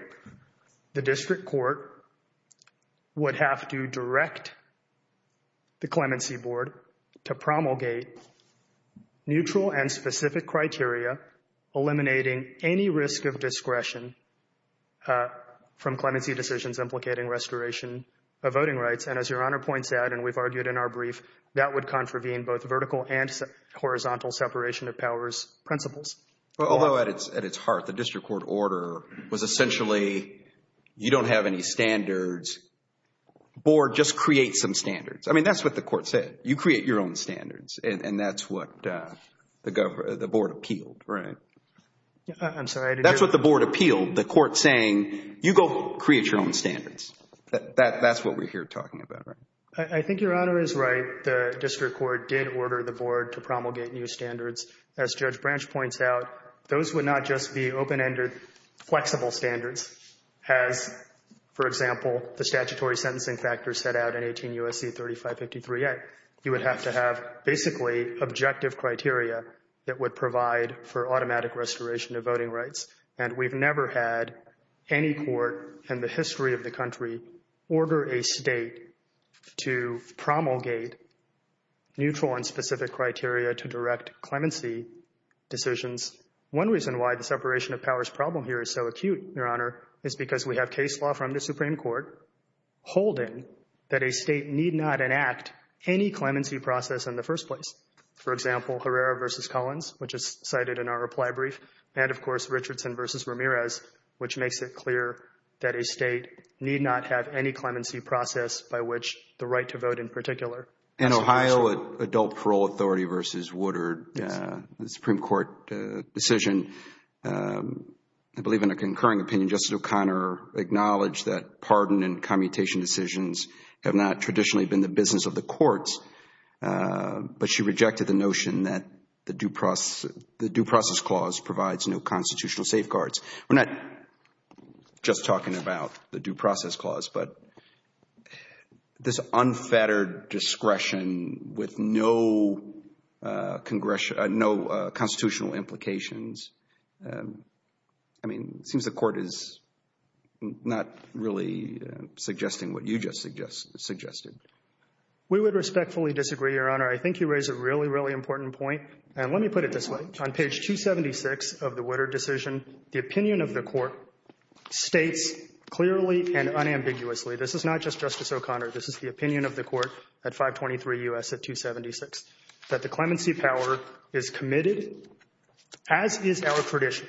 the district court would have to direct the clemency board to promulgate neutral and specific criteria, eliminating any risk of discretion from clemency decisions implicating restoration of voting rights, and as Your Honor points out and we've argued in our brief, that would contravene both vertical and horizontal separation of powers principles. Although at its heart, the district court order was essentially you don't have any standards, the board just creates some standards. I mean, that's what the court said. You create your own standards and that's what the board appealed, right? I'm sorry, I didn't hear. That's what the board appealed, the court saying you go create your own standards. That's what we're here talking about, right? I think Your Honor is right. The district court did order the board to promulgate new standards. As Judge Branch points out, those would not just be open-ended flexible standards as, for example, the statutory sentencing factors set out in 18 U.S.C. 3553A. You would have to have basically objective criteria that would provide for automatic restoration of voting rights, and we've never had any court in the history of the country order a state to promulgate neutral and specific criteria to direct clemency decisions. One reason why the separation of powers problem here is so acute, Your Honor, is because we have case law from the Supreme Court holding that a state need not enact any clemency process in the first place. For example, Herrera v. Collins, which is cited in our reply brief, and, of course, Richardson v. Ramirez, which makes it clear that a state need not have any clemency process by which the right to vote in particular. In Ohio, Adult Parole Authority v. Woodard, the Supreme Court decision, I believe in a concurring opinion, Justice O'Connor acknowledged that pardon and commutation decisions have not traditionally been the business of the courts, but she rejected the notion that the due process clause provides no constitutional safeguards. We're not just talking about the due process clause, but this unfettered discretion with no constitutional implications. I mean, it seems the court is not really suggesting what you just suggested. We would respectfully disagree, Your Honor. I think you raise a really, really important point, and let me put it this way. On page 276 of the Woodard decision, the opinion of the court states clearly and unambiguously, this is not just Justice O'Connor, this is the opinion of the court at 523 U.S. at 276, that the clemency power is committed, as is our tradition,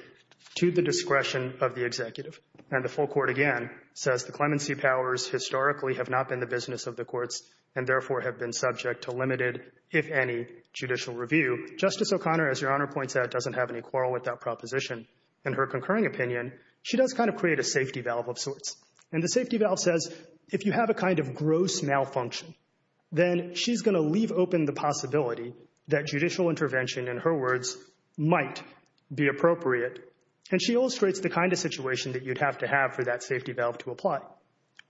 to the discretion of the executive. And the full court, again, says the clemency powers historically have not been the business of the courts and, therefore, have been subject to limited, if any, judicial review. Justice O'Connor, as Your Honor points out, doesn't have any quarrel with that proposition. In her concurring opinion, she does kind of create a safety valve of sorts. And the safety valve says if you have a kind of gross malfunction, then she's going to leave open the possibility that judicial intervention, in her words, might be appropriate. And she illustrates the kind of situation that you'd have to have for that safety valve to apply.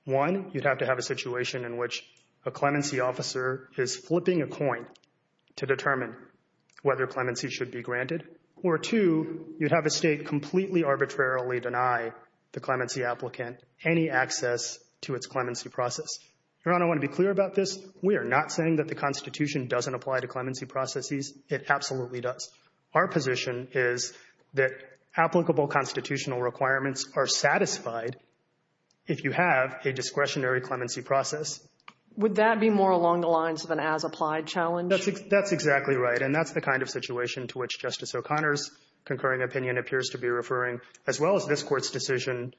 One, you'd have to have a situation in which a clemency officer is flipping a coin to determine whether clemency should be granted. Or, two, you'd have a state completely arbitrarily deny the clemency applicant any access to its clemency process. Your Honor, I want to be clear about this. We are not saying that the Constitution doesn't apply to clemency processes. It absolutely does. Our position is that applicable constitutional requirements are satisfied if you have a discretionary clemency process. Would that be more along the lines of an as-applied challenge? That's exactly right. And that's the kind of situation to which Justice O'Connor's concurring opinion appears to be referring, as well as this Court's decision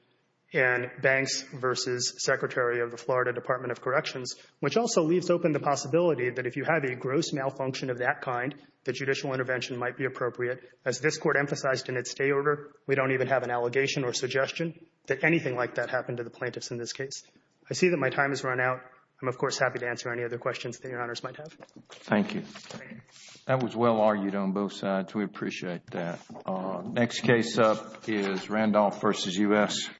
in Banks v. Secretary of the Florida Department of Corrections, which also leaves open the possibility that if you have a gross malfunction of that kind, that judicial intervention might be appropriate. As this Court emphasized in its stay order, we don't even have an allegation or suggestion that anything like that happened to the plaintiffs in this case. I see that my time has run out. I'm, of course, happy to answer any other questions that Your Honors might have. Thank you. That was well argued on both sides. We appreciate that. Next case up is Randolph v. U.S.